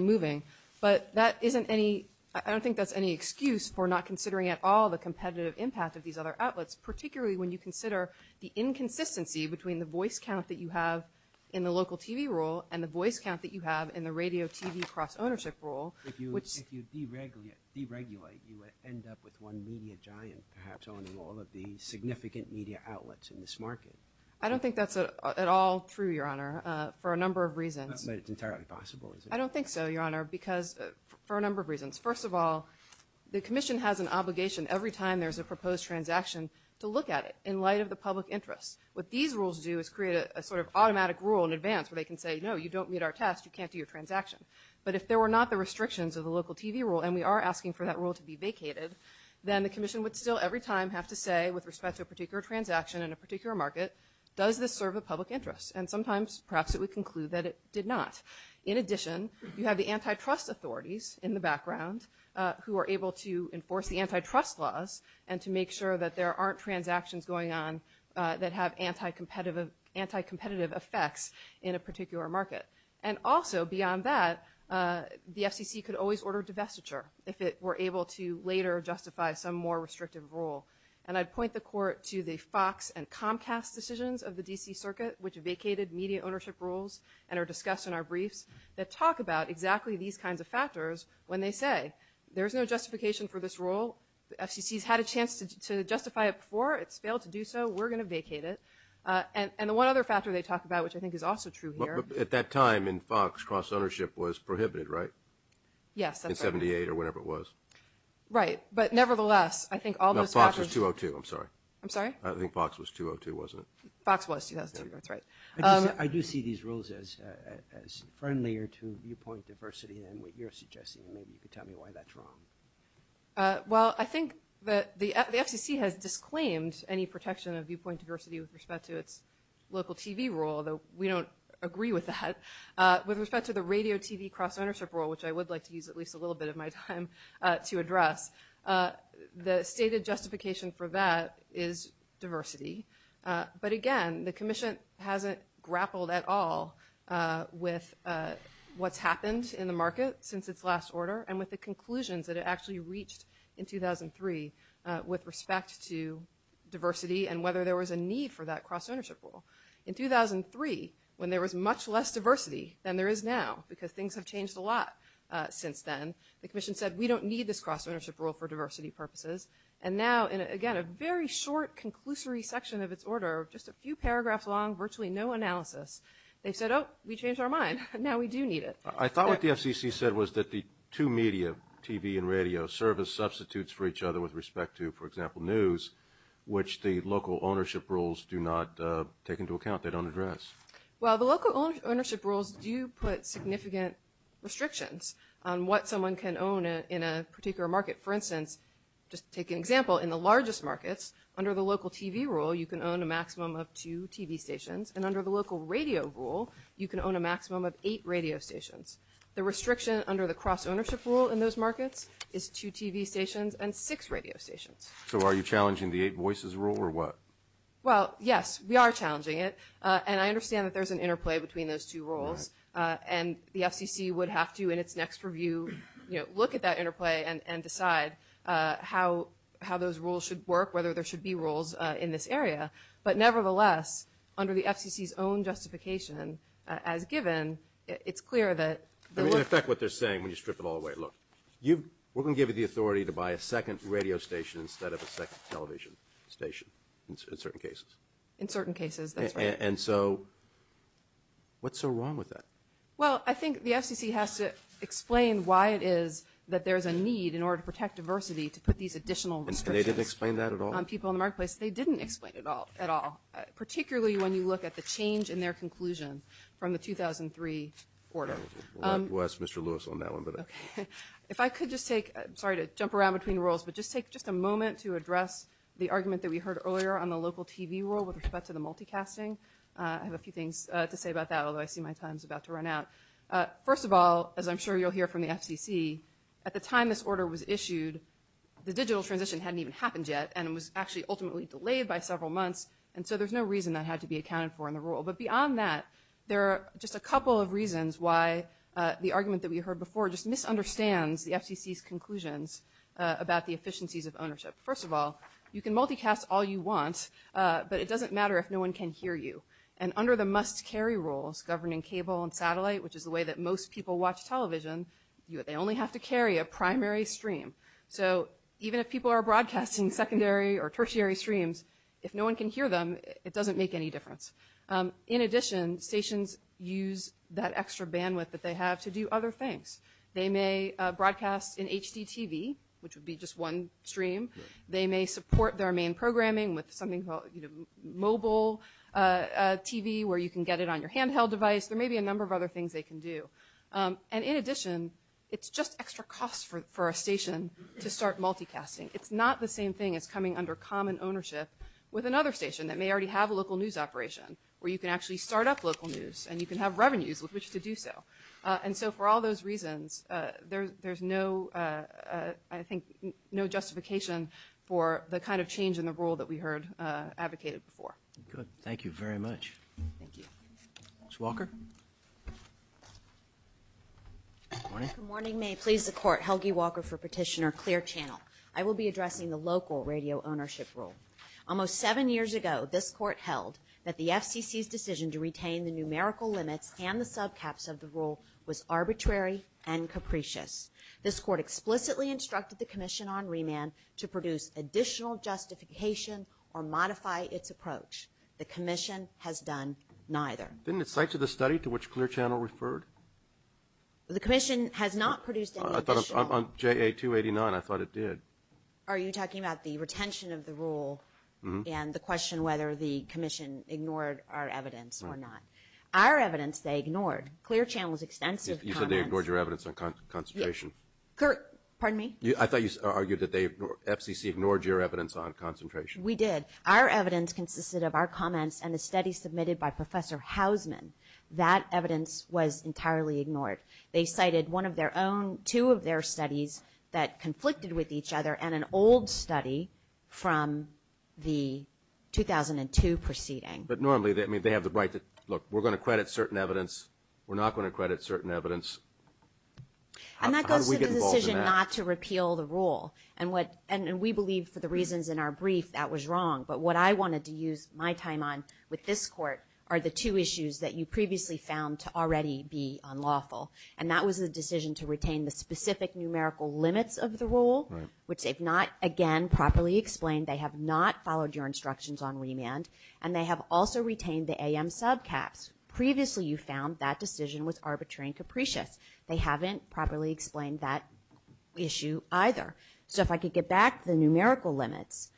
moving. But that isn't any – I don't think that's any excuse for not considering at all the competitive impact of these other outlets, particularly when you consider the inconsistency between the voice count that you have in the local TV rule and the voice count that you have in the radio-TV cross-ownership rule. If you deregulate, you end up with one media giant perhaps owning all of these significant media outlets in this market. I don't think that's at all true, Your Honor, for a number of reasons. But it's entirely possible, isn't it? I don't think so, Your Honor, because – for a number of reasons. First of all, the commission has an obligation every time there's a proposed transaction to look at it in light of the public interest. What these rules do is create a sort of automatic rule in advance where they can say, no, you don't meet our test, you can't do your transaction. But if there were not the restrictions of the local TV rule, and we are asking for that rule to be vacated, then the commission would still every time have to say with respect to a particular transaction in a particular market, does this serve a public interest? And sometimes perhaps it would conclude that it did not. In addition, you have the antitrust authorities in the background who are able to enforce the antitrust laws and to make sure that there aren't transactions going on that have anticompetitive effects in a particular market. And also beyond that, the FCC could always order divestiture if it were able to later justify some more restrictive rule. And I'd point the Court to the Fox and Comcast decisions of the D.C. Circuit, which vacated media ownership rules and are discussed in our brief, that talk about exactly these kinds of factors when they say there's no justification for this rule. The FCC's had a chance to justify it before. It's failed to do so. We're going to vacate it. And the one other factor they talk about, which I think is also true here – But at that time in Fox, cross-ownership was prohibited, right? Yes, that's right. In 78 or whenever it was. Right, but nevertheless, I think all those factors – No, Fox was 202. I'm sorry. I'm sorry? I think Fox was 202, wasn't it? Fox was, yes. That's right. I do see these rules as a friendlier to viewpoint diversity than what you're suggesting, and maybe you could tell me why that's wrong. Well, I think that the FCC has disclaimed any protection of viewpoint diversity with respect to its local TV rule, although we don't agree with that. With respect to the radio-TV cross-ownership rule, which I would like to use at least a little bit of my time to address, the stated justification for that is diversity. But again, the commission hasn't grappled at all with what's happened in the market since its last order and with the conclusions that it actually reached in 2003 with respect to diversity and whether there was a need for that cross-ownership rule. In 2003, when there was much less diversity than there is now because things have changed a lot since then, the commission said we don't need this cross-ownership rule for diversity purposes. And now, again, a very short conclusory section of its order, just a few paragraphs long, virtually no analysis. They said, oh, we changed our mind. Now we do need it. I thought what the FCC said was that the two media, TV and radio, serve as substitutes for each other with respect to, for example, news, which the local ownership rules do not take into account. They don't address. Well, the local ownership rules do put significant restrictions on what someone can own in a particular market. For instance, just to take an example, in the largest markets, under the local TV rule you can own a maximum of two TV stations, and under the local radio rule you can own a maximum of eight radio stations. The restriction under the cross-ownership rule in those markets is two TV stations and six radio stations. So are you challenging the eight voices rule or what? Well, yes, we are challenging it. And I understand that there's an interplay between those two rules, and the FCC would have to, in its next review, look at that interplay and decide how those rules should work, whether there should be rules in this area. But nevertheless, under the FCC's own justification, as given, it's clear that the look at what they're saying when you strip it all away, look, we're going to give you the authority to buy a second radio station instead of a second television station in certain cases. And so what's so wrong with that? Well, I think the FCC has to explain why it is that there's a need in order to protect diversity to put these additional restrictions. And they didn't explain that at all? On people in the marketplace, they didn't explain it at all, particularly when you look at the change in their conclusion from the 2003 order. Well, that's Mr. Lewis on that one. If I could just take – sorry to jump around between roles, but just take just a moment to address the argument that we heard earlier on the local TV rule with respect to the multicasting. I have a few things to say about that, although I see my time is about to run out. First of all, as I'm sure you'll hear from the FCC, at the time this order was issued, the digital transition hadn't even happened yet, and it was actually ultimately delayed by several months, and so there's no reason that had to be accounted for in the rule. But beyond that, there are just a couple of reasons why the argument that we heard before just misunderstands the FCC's conclusions about the efficiencies of ownership. First of all, you can multicast all you want, but it doesn't matter if no one can hear you. And under the must-carry rule governing cable and satellite, which is the way that most people watch television, they only have to carry a primary stream. So even if people are broadcasting secondary or tertiary streams, if no one can hear them, it doesn't make any difference. In addition, stations use that extra bandwidth that they have to do other things. They may broadcast in HDTV, which would be just one stream. They may support their main programming with something called mobile TV, where you can get it on your handheld device. There may be a number of other things they can do. And in addition, it's just extra cost for a station to start multicasting. It's not the same thing as coming under common ownership with another station that may already have a local news operation, where you can actually start up local news, and you can have revenues with which to do so. And so for all those reasons, there's no, I think, no justification for the kind of change in the rule that we heard advocated for. Good. Thank you very much. Thank you. Ms. Walker? Good morning. May it please the Court, Helgi Walker for petitioner Clear Channel. I will be addressing the local radio ownership rule. Almost seven years ago, this Court held that the FTC's decision to retain the numerical limits and the subcaps of the rule was arbitrary and capricious. This Court explicitly instructed the Commission on Remand to produce additional justification or modify its approach. The Commission has done neither. Didn't it cite to the study to which Clear Channel referred? The Commission has not produced any addition. On JA-289, I thought it did. Are you talking about the retention of the rule and the question whether the Commission ignored our evidence or not? Our evidence they ignored. Clear Channel's extensive comments. You said they ignored your evidence on concentration. Yes. Pardon me? I thought you argued that FCC ignored your evidence on concentration. We did. Our evidence consisted of our comments and the study submitted by Professor Hausman. That evidence was entirely ignored. They cited one of their own, two of their studies that conflicted with each other, and an old study from the 2002 proceeding. But normally they have the right to look. We're going to credit certain evidence. We're not going to credit certain evidence. How did we get involved in that? And that goes to the decision not to repeal the rule. And we believe for the reasons in our brief that was wrong. But what I wanted to use my time on with this Court are the two issues that you previously found to already be unlawful, and that was the decision to retain the specific numerical limits of the rule, which they've not, again, properly explained. They have not followed your instructions on remand, and they have also retained the AM subcaps. Previously you found that decision was arbitrary and capricious. They haven't properly explained that issue either. So if I could get back to the numerical limits,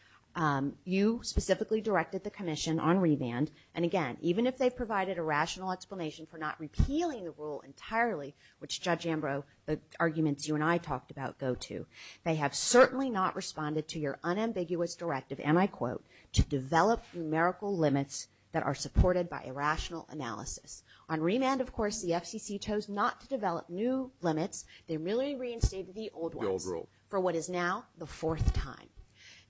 you specifically directed the Commission on remand, and again, even if they provided a rational explanation for not repealing the rule entirely, which Judge Ambrose, the arguments you and I talked about go to, they have certainly not responded to your unambiguous directive, and I quote, to develop numerical limits that are supported by a rational analysis. On remand, of course, the FCC chose not to develop new limits. They really reinstated the old rule for what is now the fourth time.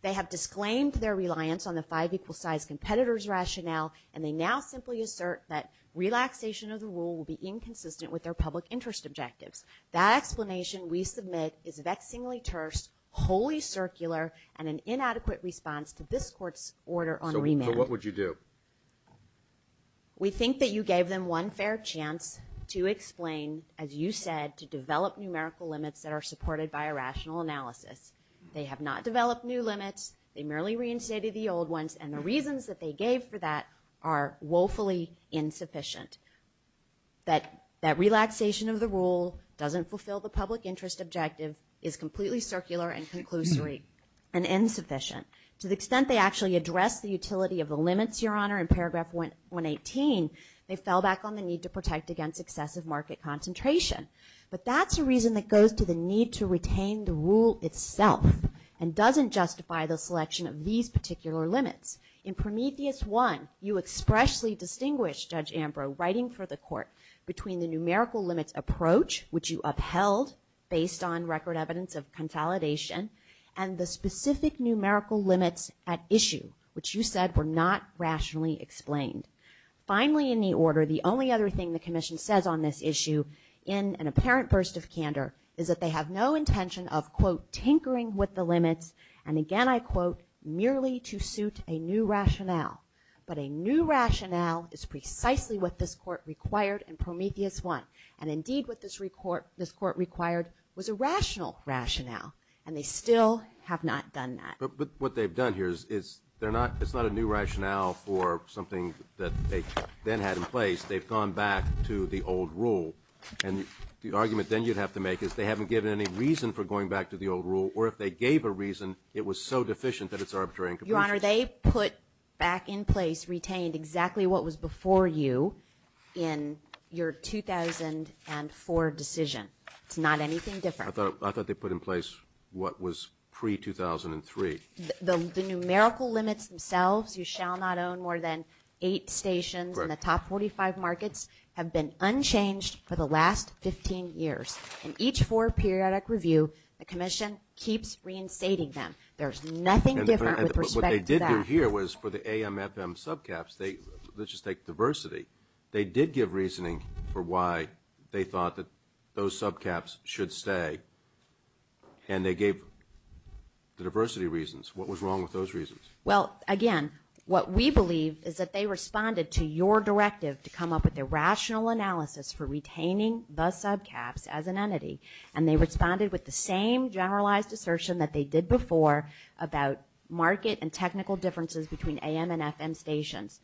They have disclaimed their reliance on the five equal-sized competitors rationale, and they now simply assert that relaxation of the rule will be inconsistent with their public interest objectives. That explanation, we submit, is vexingly terse, wholly circular, and an inadequate response to this Court's order on remand. So what would you do? We think that you gave them one fair chance to explain, as you said, to develop numerical limits that are supported by a rational analysis. They have not developed new limits. They merely reinstated the old ones, and the reasons that they gave for that are woefully insufficient. That relaxation of the rule doesn't fulfill the public interest objective is completely circular and conclusory and insufficient. To the extent they actually address the utility of the limits, Your Honor, in paragraph 118, they fell back on the need to protect against excessive market concentration. But that's a reason that goes to the need to retain the rule itself and doesn't justify the selection of these particular limits. In Prometheus 1, you expressly distinguish, Judge Ambrose, writing for the Court, between the numerical limit approach, which you upheld, based on record evidence of consolidation, and the specific numerical limits at issue, which you said were not rationally explained. Finally in the order, the only other thing the Commission says on this issue, in an apparent burst of candor, is that they have no intention of, quote, tinkering with the limits, and again I quote, merely to suit a new rationale. But a new rationale is precisely what this Court required in Prometheus 1, and indeed what this Court required was a rational rationale, and they still have not done that. But what they've done here is it's not a new rationale for something that they then had in place. They've gone back to the old rule, and the argument then you'd have to make is they haven't given any reason for going back to the old rule, or if they gave a reason, it was so deficient that it's arbitrary and confusing. Your Honor, they put back in place, retained exactly what was before you in your 2004 decision. It's not anything different. I thought they put in place what was pre-2003. The numerical limits themselves, you shall not own more than eight stations, and the top 45 markets have been unchanged for the last 15 years. In each four-periodic review, the Commission keeps reinstating them. There's nothing different with respect to that. But what they did do here was for the AMFM subcaps, let's just take diversity, they did give reasoning for why they thought that those subcaps should stay, and they gave the diversity reasons. What was wrong with those reasons? Well, again, what we believe is that they responded to your directive to come up with a rational analysis for retaining the subcaps as an entity, and they responded with the same generalized assertion that they did before about market and technical differences between AM and FM stations.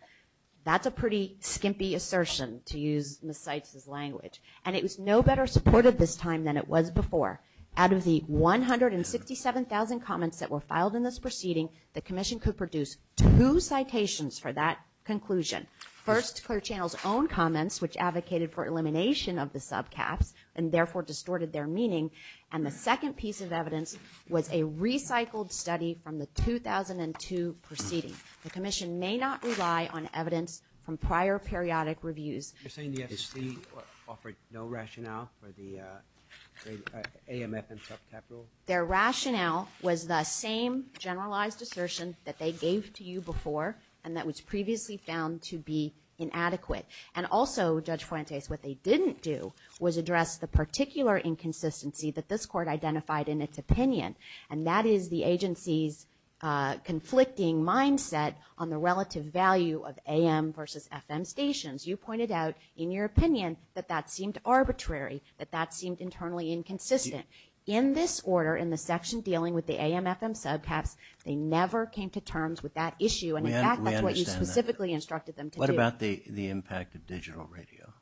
That's a pretty skimpy assertion, to use Ms. Sykes' language, and it was no better supported this time than it was before. Out of the 167,000 comments that were filed in this proceeding, the Commission could produce two citations for that conclusion. First, Claire Channel's own comments, which advocated for elimination of the subcaps and therefore distorted their meaning, and the second piece of evidence was a recycled study from the 2002 proceeding. The Commission may not rely on evidence from prior periodic reviews. You're saying the FCC offered no rationale for the AMFM subcap rule? Their rationale was the same generalized assertion that they gave to you before and that was previously found to be inadequate. And also, Judge Fuentes, what they didn't do was address the particular inconsistency that this Court identified in its opinion, and that is the agency's conflicting mindset on the relative value of AM versus FM stations. You pointed out in your opinion that that seemed arbitrary, that that seemed internally inconsistent. In this order, in the section dealing with the AMFM subcaps, they never came to terms with that issue, and in fact that's what you specifically instructed them to do. What about the impact of digital radio?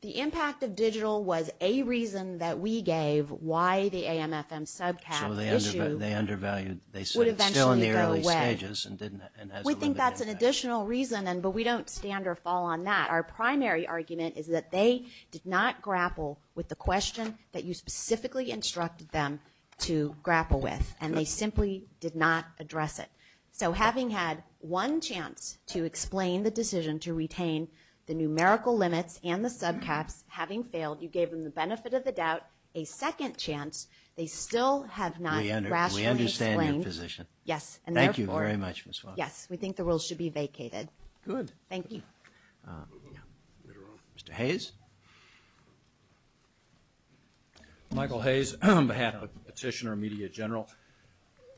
The impact of digital was a reason that we gave why the AMFM subcaps issue would eventually go away. We think that's an additional reason, but we don't stand or fall on that. Our primary argument is that they did not grapple with the question that you specifically instructed them to grapple with, and they simply did not address it. So having had one chance to explain the decision to retain the numerical limits and the subcaps, having failed, you gave them the benefit of the doubt, a second chance, they still have not grasped and explained. We understand your position. Yes. Thank you very much, Ms. Fuentes. Yes, we think the rules should be vacated. Good. Thank you. Mr. Hayes? Michael Hayes on behalf of the Petitioner and Media General.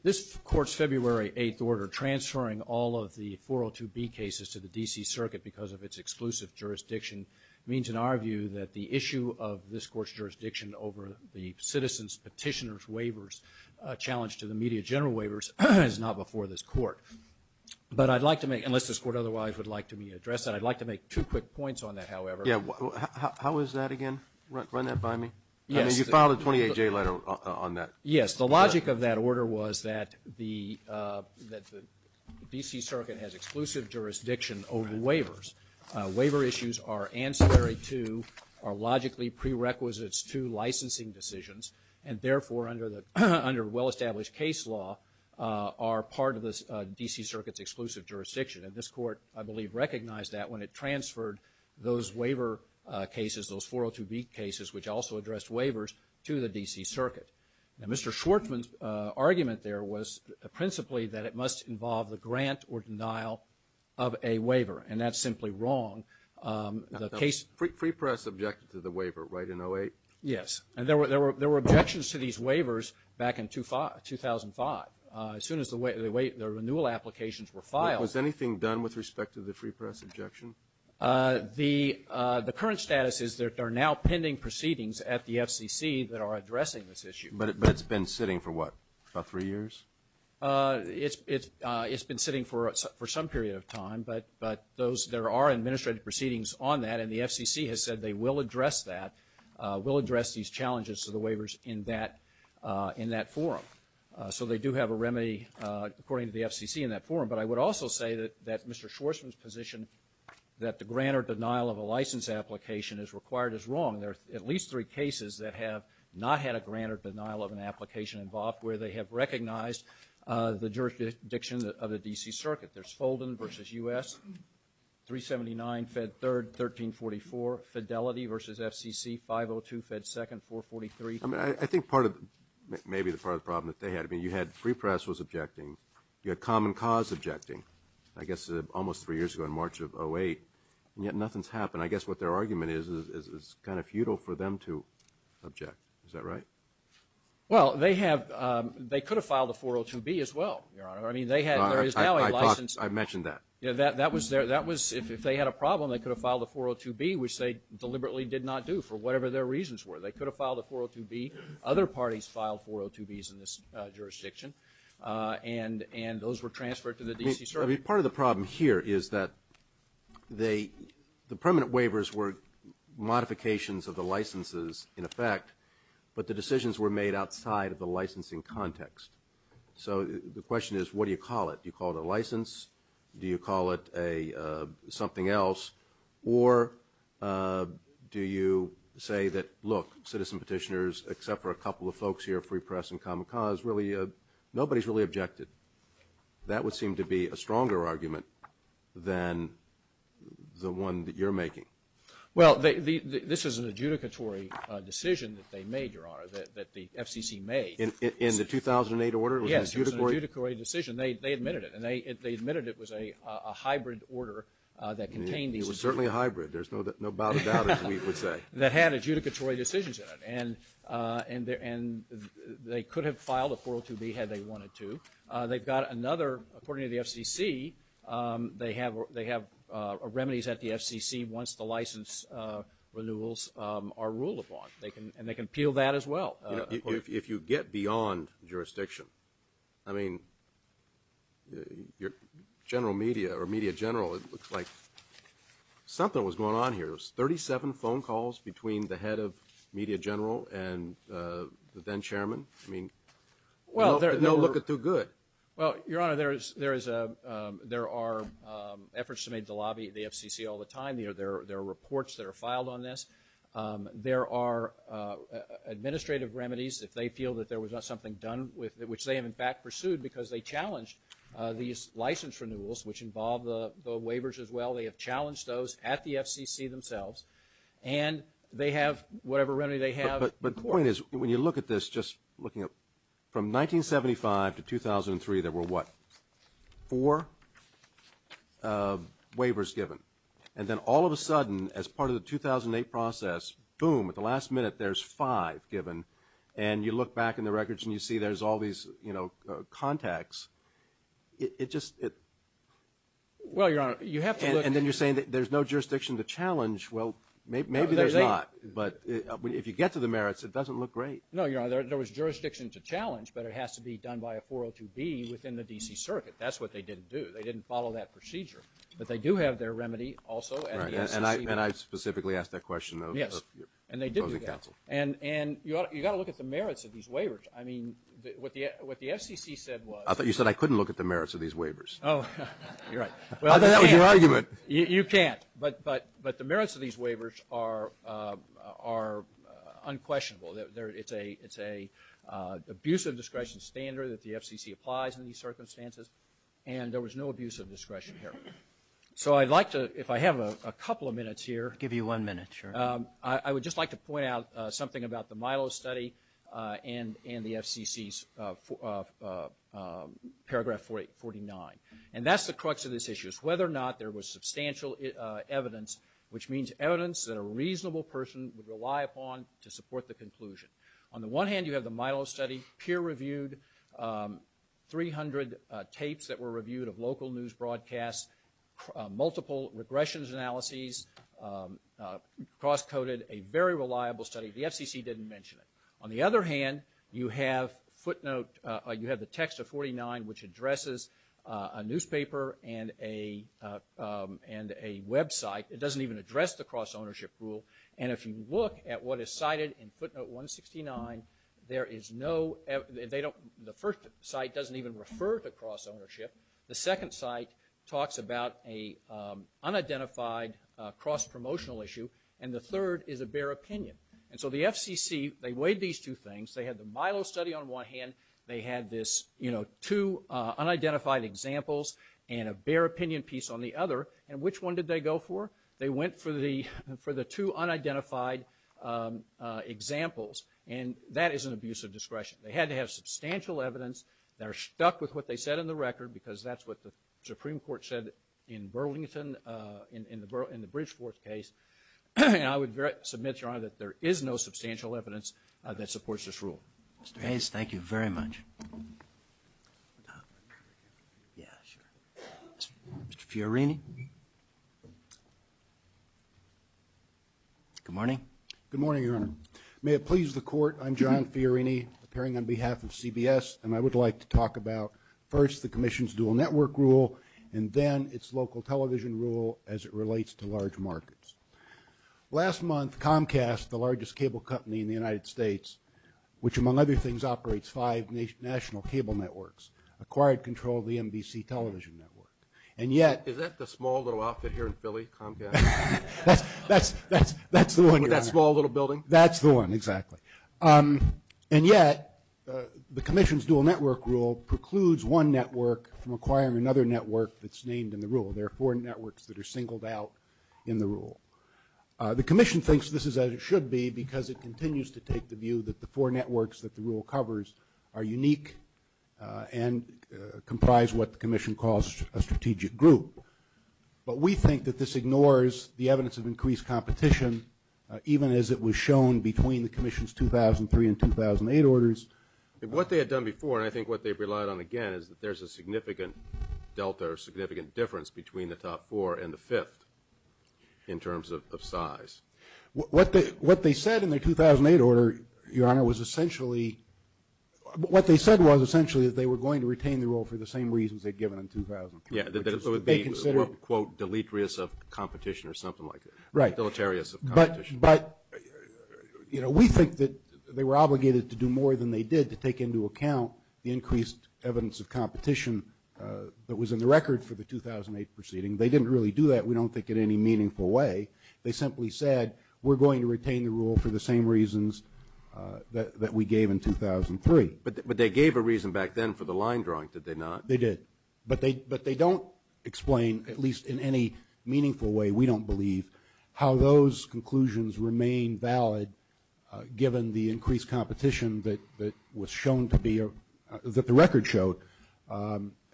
This Court's February 8th order transferring all of the 402B cases to the D.C. Circuit because of its exclusive jurisdiction means, in our view, that the issue of this Court's jurisdiction over the Citizens Petitioner's Waivers challenge to the Media General Waivers is not before this Court. But I'd like to make, unless this Court otherwise would like to address that, I'd like to make two quick points on that, however. How is that again? Run that by me. You filed a 28-J letter on that. Yes. The logic of that order was that the D.C. Circuit has exclusive jurisdiction over waivers. Waiver issues are ancillary to or logically prerequisites to licensing decisions and, therefore, under well-established case law, are part of the D.C. Circuit's exclusive jurisdiction. And this Court, I believe, recognized that when it transferred those waiver cases, those 402B cases, which also addressed waivers, to the D.C. Circuit. Now, Mr. Schwartzman's argument there was principally that it must involve the grant or denial of a waiver, and that's simply wrong. Free press objected to the waiver, right, in 08? Yes. There were objections to these waivers back in 2005. As soon as the renewal applications were filed. Was anything done with respect to the free press objection? The current status is that there are now pending proceedings at the FCC that are addressing this issue. But it's been sitting for what, about three years? It's been sitting for some period of time, but there are administrative proceedings on that, and the FCC has said they will address that, will address these challenges to the waivers in that forum. So they do have a remedy, according to the FCC, in that forum. But I would also say that Mr. Schwartzman's position that the grant or denial of a license application is required is wrong. There are at least three cases that have not had a grant or denial of an application involved, where they have recognized the jurisdiction of the D.C. Circuit. There's Holden v. U.S., 379, Fed 3rd, 1344, Fidelity v. FCC, 502, Fed 2nd, 443. I mean, I think part of maybe the problem that they had, I mean, you had free press was objecting. You had common cause objecting, I guess, almost three years ago in March of 2008, and yet nothing's happened. I guess what their argument is is it's kind of futile for them to object. Is that right? Well, they have – they could have filed a 402B as well, Your Honor. I mean, they have – there is now a license. I thought – I mentioned that. That was – if they had a problem, they could have filed a 402B, which they deliberately did not do for whatever their reasons were. They could have filed a 402B. Other parties filed 402Bs in this jurisdiction, and those were transferred to the D.C. Circuit. I mean, part of the problem here is that the permanent waivers were modifications of the licenses in effect, but the decisions were made outside of the licensing context. So the question is, what do you call it? Do you call it a license? Do you call it a something else? Or do you say that, look, citizen petitioners, except for a couple of folks here, free press and common cause, really – nobody's really objected. That would seem to be a stronger argument than the one that you're making. Well, this is an adjudicatory decision that they made, Your Honor, that the FCC made. In the 2008 order? Yes, it was an adjudicatory decision. And they admitted it, and they admitted it was a hybrid order that contained these decisions. It was certainly a hybrid. There's no doubt about it, we would say. That had adjudicatory decisions in it, and they could have filed a 402B had they wanted to. They've got another – according to the FCC, they have remedies that the FCC wants the license renewals are ruled upon. And they can peel that as well. If you get beyond jurisdiction, I mean, general media or media general, it looks like something was going on here. It was 37 phone calls between the head of media general and the then-chairman. I mean, they don't look it through good. Well, Your Honor, there are efforts to make the lobby of the FCC all the time. There are reports that are filed on this. There are administrative remedies, if they feel that there was something done, which they have, in fact, pursued because they challenged these license renewals, which involve the waivers as well. They have challenged those at the FCC themselves. And they have whatever remedy they have. But the point is, when you look at this, just looking at – from 1975 to 2003, there were what? Four waivers given. And then all of a sudden, as part of the 2008 process, boom, at the last minute, there's five given. And you look back in the records and you see there's all these contacts. It just – and then you're saying that there's no jurisdiction to challenge. Well, maybe there's not. But if you get to the merits, it doesn't look great. No, Your Honor, there was jurisdiction to challenge, but it has to be done by a 402B within the D.C. Circuit. That's what they didn't do. They didn't follow that procedure. But they do have their remedy also. And I specifically asked that question, though. Yes, and they did do that. And you've got to look at the merits of these waivers. I mean, what the FCC said was – I thought you said I couldn't look at the merits of these waivers. Oh, you're right. I thought that was your argument. You can't. But the merits of these waivers are unquestionable. It's an abuse of discretion standard that the FCC applies in these circumstances. And there was no abuse of discretion here. So I'd like to – if I have a couple of minutes here. I'll give you one minute, sure. I would just like to point out something about the Milo study and the FCC's Paragraph 49. And that's the crux of this issue, is whether or not there was substantial evidence, which means evidence that a reasonable person would rely upon to support the conclusion. On the one hand, you have the Milo study, peer-reviewed, 300 tapes that were reviewed of local news broadcasts, multiple regressions analyses, cross-coded, a very reliable study. The FCC didn't mention it. On the other hand, you have footnote – you have the text of 49, which addresses a newspaper and a website. It doesn't even address the cross-ownership rule. And if you look at what is cited in footnote 169, there is no – they don't – the first site doesn't even refer to cross-ownership. The second site talks about an unidentified cross-promotional issue. And the third is a bare opinion. And so the FCC, they weighed these two things. They had the Milo study on one hand. They had this, you know, two unidentified examples and a bare opinion piece on the other. And which one did they go for? They went for the two unidentified examples. And that is an abuse of discretion. They had to have substantial evidence. They're stuck with what they said on the record because that's what the Supreme Court said in Burlington in the British courts case. And I would submit, Your Honor, that there is no substantial evidence that supports this rule. Mr. Hayes, thank you very much. Yeah, sure. Mr. Fiorini. Good morning. Good morning, Your Honor. May it please the Court, I'm John Fiorini, appearing on behalf of CBS, and I would like to talk about first the commission's dual network rule and then its local television rule as it relates to large markets. Last month, Comcast, the largest cable company in the United States, which among other things operates five national cable networks, acquired control of the NBC television network. And yet... Is that the small little outfit here in Philly, Comcast? That's the one, Your Honor. That small little building? That's the one, exactly. And yet, the commission's dual network rule precludes one network from acquiring another network that's named in the rule. There are four networks that are singled out in the rule. The commission thinks this is as it should be, because it continues to take the view that the four networks that the rule covers are unique and comprise what the commission calls a strategic group. But we think that this ignores the evidence of increased competition, even as it was shown between the commission's 2003 and 2008 orders. What they had done before, and I think what they've relied on again, is that there's a significant delta or significant difference between the top four and the fifth in terms of size. What they said in the 2008 order, Your Honor, was essentially... What they said was essentially that they were going to retain the rule for the same reasons they'd given in 2000. Yeah, that it would be, quote, deleterious of competition or something like that. Right. Deleterious of competition. But, you know, we think that they were obligated to do more than they did to take into account the increased evidence of competition that was in the record for the 2008 proceeding. They didn't really do that, we don't think, in any meaningful way. They simply said, we're going to retain the rule for the same reasons that we gave in 2003. But they gave a reason back then for the line drawings, did they not? They did. But they don't explain, at least in any meaningful way we don't believe, how those conclusions remain valid given the increased competition that was shown to be... that the record showed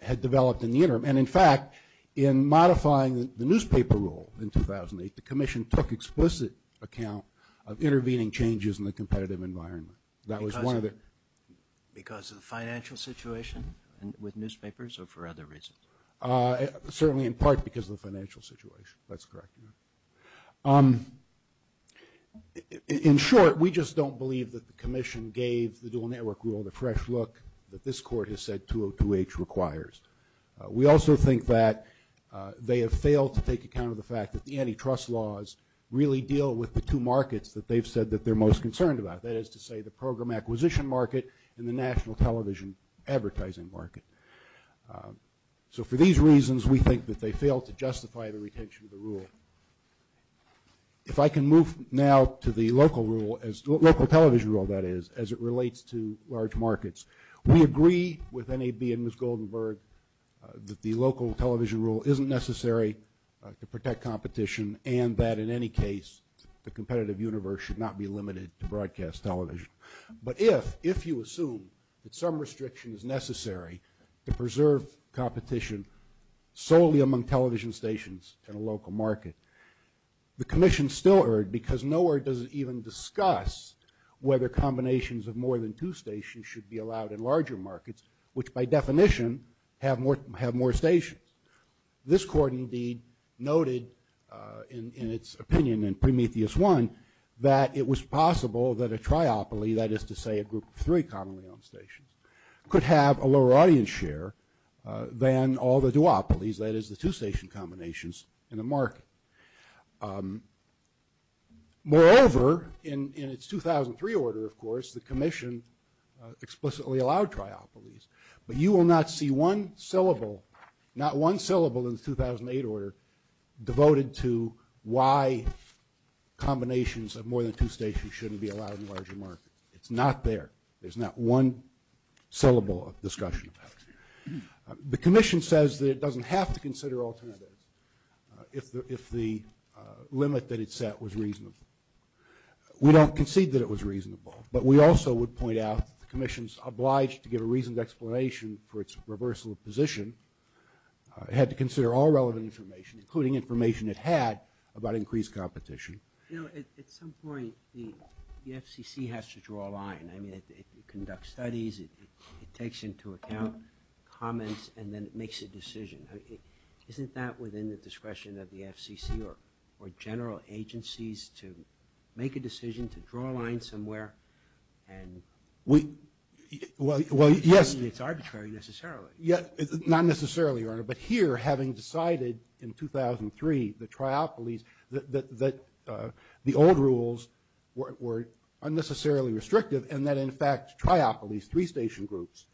had developed in the interim. And, in fact, in modifying the newspaper rule in 2008, the Commission took explicit account of intervening changes in the competitive environment. That was one of the... Because of the financial situation with newspapers or for other reasons? Certainly in part because of the financial situation. That's correct. In short, we just don't believe that the Commission gave the dual network rule the fresh look that this court has said 202H requires. We also think that they have failed to take account of the fact that the antitrust laws really deal with the two markets that they've said that they're most concerned about. That is to say the program acquisition market and the national television advertising market. So for these reasons, we think that they fail to justify the retention of the rule. If I can move now to the local rule, local television rule, that is, as it relates to large markets. We agree with NAB and Ms. Goldenberg that the local television rule isn't necessary to protect competition and that in any case the competitive universe should not be limited to broadcast television. But if you assume that some restriction is necessary to preserve competition solely among television stations in a local market, the Commission still erred because nowhere does it even discuss whether combinations of more than two stations should be allowed in larger markets, which by definition have more stations. This court indeed noted in its opinion in Prometheus I that it was possible that a triopoly, that is to say a group of three commonly owned stations, could have a lower audience share than all the duopolies, that is the two station combinations in the market. Moreover, in its 2003 order of course, the Commission explicitly allowed triopolies. But you will not see one syllable, not one syllable in the 2008 order, devoted to why combinations of more than two stations shouldn't be allowed in larger markets. It's not there. There's not one syllable of discussion about it. The Commission says that it doesn't have to consider alternatives if the limit that it set was reasonable. We don't concede that it was reasonable, but we also would point out the Commission is obliged to give a reasonable explanation for its reversal of position. It had to consider all relevant information, including information it had about increased competition. You know, at some point the FCC has to draw a line. I mean, it conducts studies, it takes into account comments, and then it makes a decision. Isn't that within the discretion of the FCC or general agencies to make a decision, to draw a line somewhere? Well, yes. It's arbitrary necessarily. Not necessarily, but here, having decided in 2003 that triopolies, that the old rules were unnecessarily restrictive, and that in fact triopolies, three station groups,